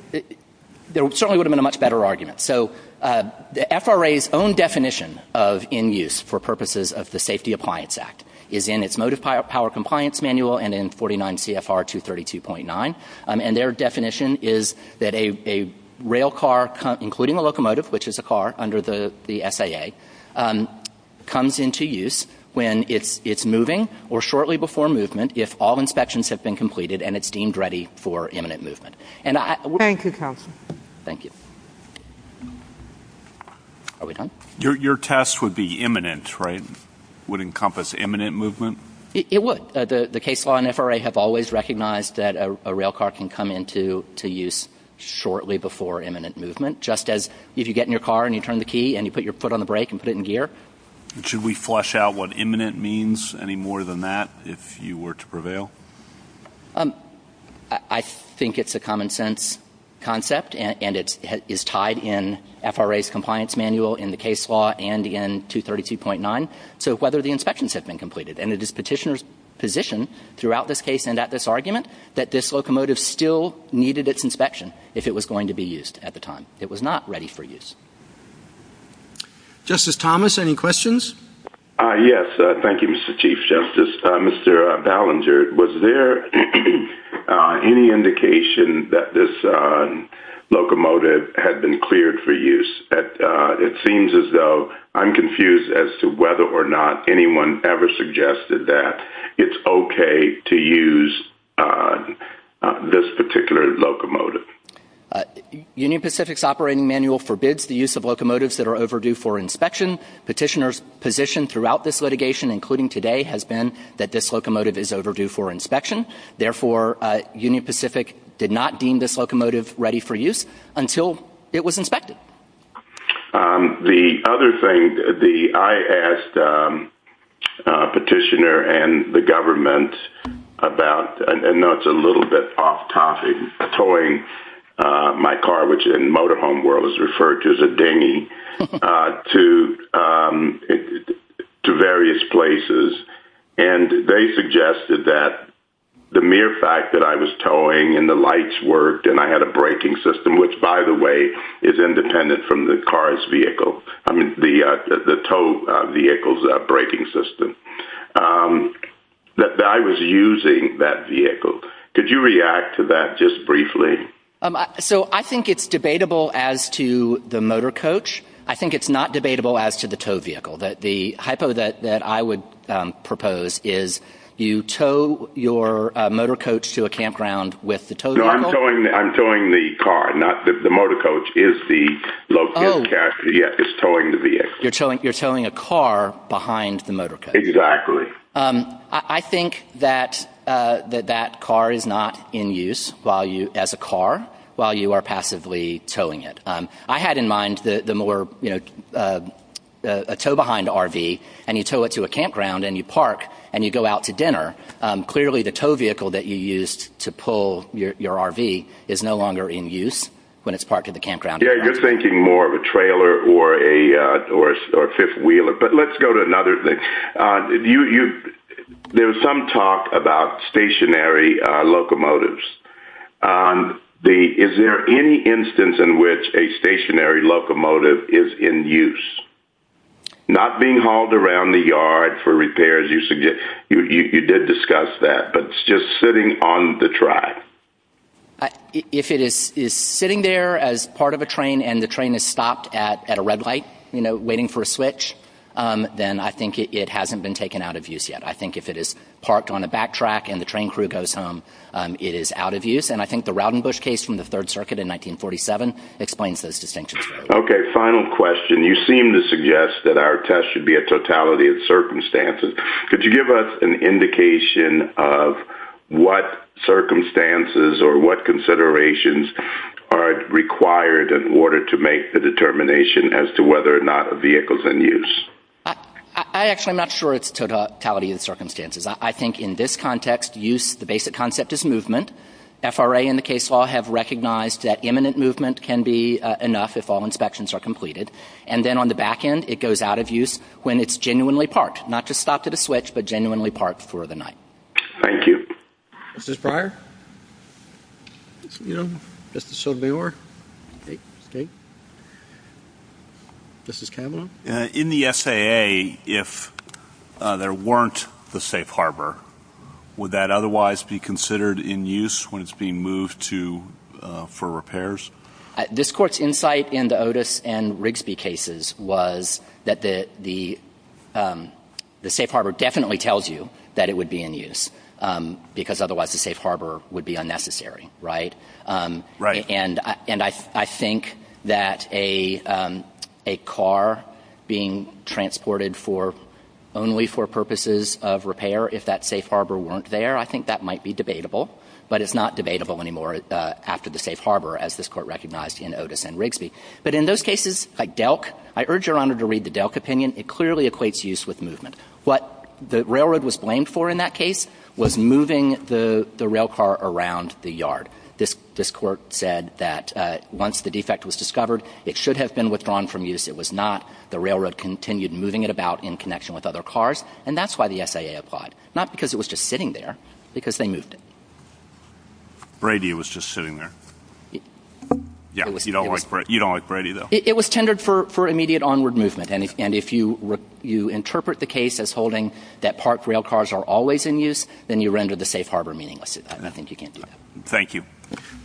There certainly would have been a much better argument. So the FRA's own definition of in-use for purposes of the Safety Appliance Act is in its motive power compliance manual and in 49 CFR 232.9. And their definition is that a rail car, including a locomotive, which is a car under the SAA, comes into use when it's moving or shortly before movement if all inspections have been completed and it's deemed ready for imminent movement. And I... Thank you, counsel. Thank you. Are we done? Your test would be imminent, right? Would encompass imminent movement? It would. The case law and FRA have always recognized that a rail car can come into use shortly before imminent movement. Just as if you get in your car and you turn the key and you put your foot on the brake and put it in gear. Should we flesh out what imminent means any more than that if you were to prevail? I think it's a common sense concept and it is tied in FRA's compliance manual in the case law and in 232.9. So whether the inspections have been completed. And it is Petitioner's position throughout this case and at this argument that this locomotive still needed its inspection if it was going to be used at the time. It was not ready for use. Justice Thomas, any questions? Yes. Thank you, Mr. Chief Justice. Mr. Ballenger, was there any indication that this locomotive had been cleared for use? It seems as though I'm confused as to whether or not anyone ever suggested that it's okay to use this particular locomotive. Union Pacific's operating manual forbids the use of locomotives that are overdue for inspection. Petitioner's position throughout this litigation, including today, has been that this locomotive is overdue for inspection. Therefore, Union Pacific did not deem this locomotive ready for use until it was inspected. The other thing that I asked Petitioner and the government about, I know it's a little bit off-topic, towing my car, which in motorhome world is referred to as a dinghy, to various places. And they suggested that the mere fact that I was towing and the lights worked, and I had a braking system, which, by the way, is independent from the car's vehicle, I mean, the tow vehicle's braking system, that I was using that vehicle. Could you react to that just briefly? So I think it's debatable as to the motorcoach. I think it's not debatable as to the tow vehicle. The hypo that I would propose is you tow your motorcoach to a campground with the tow vehicle. No, I'm towing the car, not the motorcoach. It's the locomotive character. Yeah, it's towing the vehicle. You're towing a car behind the motorcoach. Exactly. I think that that car is not in use as a car while you are passively towing it. I had in mind the more, you know, a tow-behind RV, and you tow it to a campground, and you park, and you go out to dinner. Clearly, the tow vehicle that you used to pull your RV is no longer in use when it's parked at the campground. Yeah, you're thinking more of a trailer or a fifth-wheeler. But let's go to another thing. There's some talk about stationary locomotives. Is there any instance in which a stationary locomotive is in use? Not being hauled around the yard for repairs. You did discuss that, but it's just sitting on the track. If it is sitting there as part of a train, and the train has stopped at a red light, you know, waiting for a switch, then I think it hasn't been taken out of use yet. I think if it is parked on a back track, and the train crew goes home, it is out of use. And I think the Rowdenbush case from the Third Circuit in 1947 explains those distinctions. Okay, final question. You seem to suggest that our test should be a totality of circumstances. Could you give us an indication of what circumstances or what considerations are required in order to make the determination as to whether or not a vehicle is in use? I actually am not sure it's totality of circumstances. I think in this context, use, the basic concept is movement. FRA and the case law have recognized that imminent movement can be enough if all inspections are completed. And then on the back end, it goes out of use when it's genuinely parked. Not to stop at a switch, but genuinely parked for the night. Thank you. Justice Breyer? Justice O'Daymore? Justice Kavanaugh? In the SAA, if there weren't the safe harbor, would that otherwise be considered in use when it's being moved for repairs? This Court's insight into Otis and Rigsby cases was that the safe harbor definitely tells you that it would be in use, because otherwise the safe harbor would be unnecessary, right? Right. And I think that a car being transported only for purposes of repair, if that safe harbor weren't there, I think that might be debatable. But it's not debatable anymore after the safe harbor, as this Court recognized in Otis and Rigsby. But in those cases, like Delk, I urge Your Honor to read the Delk opinion. It clearly equates use with movement. What the railroad was blamed for in that case was moving the railcar around the yard. This Court said that once the defect was discovered, it should have been withdrawn from use. It was not. The railroad continued moving it about in connection with other cars. And that's why the SAA applied. Not because it was just sitting there. Because they moved it. Brady was just sitting there. Yeah, you don't like Brady, though. It was tendered for immediate onward movement. And if you interpret the case as holding that park railcars are always in use, then you render the safe harbor meaningless. I think you can't do that. Thank you.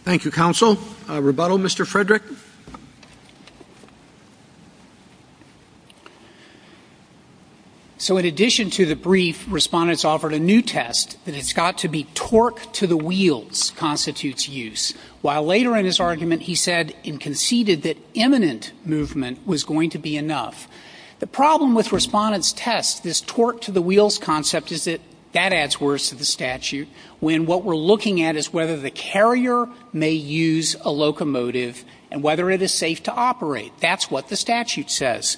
Thank you, Counsel. Rebuttal, Mr. Frederick. So in addition to the brief, Respondents offered a new test. And it's got to be torque to the wheels constitutes use. While later in his argument, he said and conceded that imminent movement was going to be enough. The problem with Respondent's test, this torque to the wheels concept, is that that adds worse to the statute when what we're looking at is whether the carrier may use a locomotive and whether it is safe to operate. That's what the statute says.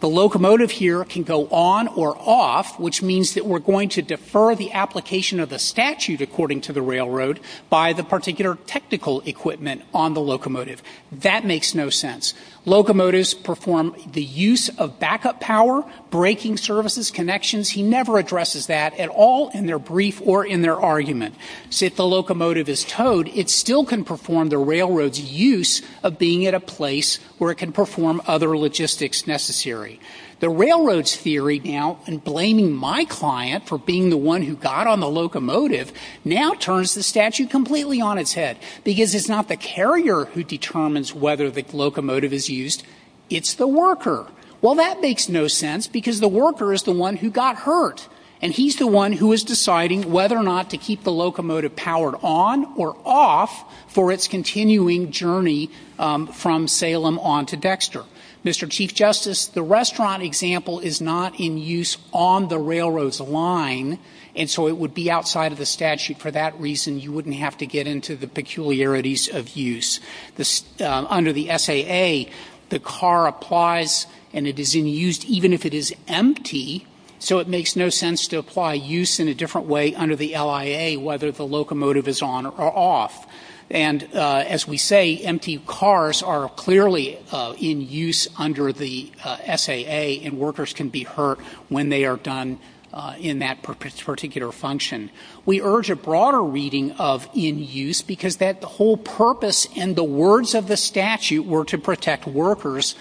The locomotive here can go on or off, which means that we're going to defer the application of the statute, according to the railroad, by the particular technical equipment on the locomotive. That makes no sense. Locomotives perform the use of backup power, braking services, connections. He never addresses that at all in their brief or in their argument. So if the locomotive is towed, it still can perform the railroad's use of being at a place where it can perform other logistics necessary. The railroad's theory now, and blaming my client for being the one who got on the locomotive, now turns the statute completely on its head. Because it's not the carrier who determines whether the locomotive is used. It's the worker. Well, that makes no sense because the worker is the one who got hurt. And he's the one who is deciding whether or not to keep the locomotive powered on or off for its continuing journey from Salem on to Dexter. Mr. Chief Justice, the restaurant example is not in use on the railroad's line, and so it would be outside of the statute. For that reason, you wouldn't have to get into the peculiarities of use. Under the SAA, the car applies and it is in use even if it is empty. So it makes no sense to apply use in a different way under the LIA, whether the locomotive is on or off. And as we say, empty cars are clearly in use under the SAA, and workers can be hurt when they are done in that particular function. We urge a broader reading of in use because the whole purpose and the words of the statute were to protect workers,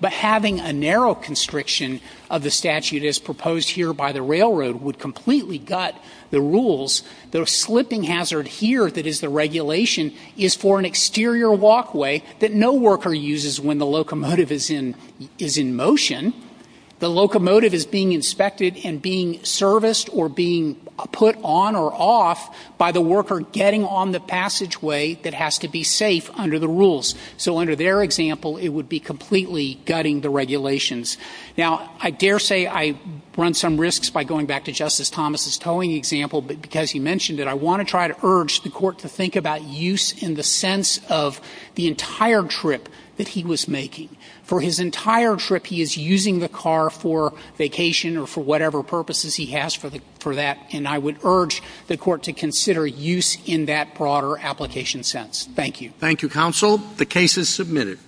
but having a narrow constriction of the statute as proposed here by the railroad would completely gut the rules. The slipping hazard here that is the regulation is for an exterior walkway that no worker uses when the locomotive is in motion. The locomotive is being inspected and being serviced or being put on or off by the worker getting on the passageway that has to be safe under the rules. So under their example, it would be completely gutting the regulations. Now, I dare say I run some risks by going back to Justice Thomas's towing example, but because he mentioned it, I want to try to urge the court to think about use in the sense of the entire trip that he was making. For his entire trip, he is using the car for vacation or for whatever purposes he has for that, and I would urge the court to consider use in that broader application sense. Thank you. Thank you, counsel. The case is submitted.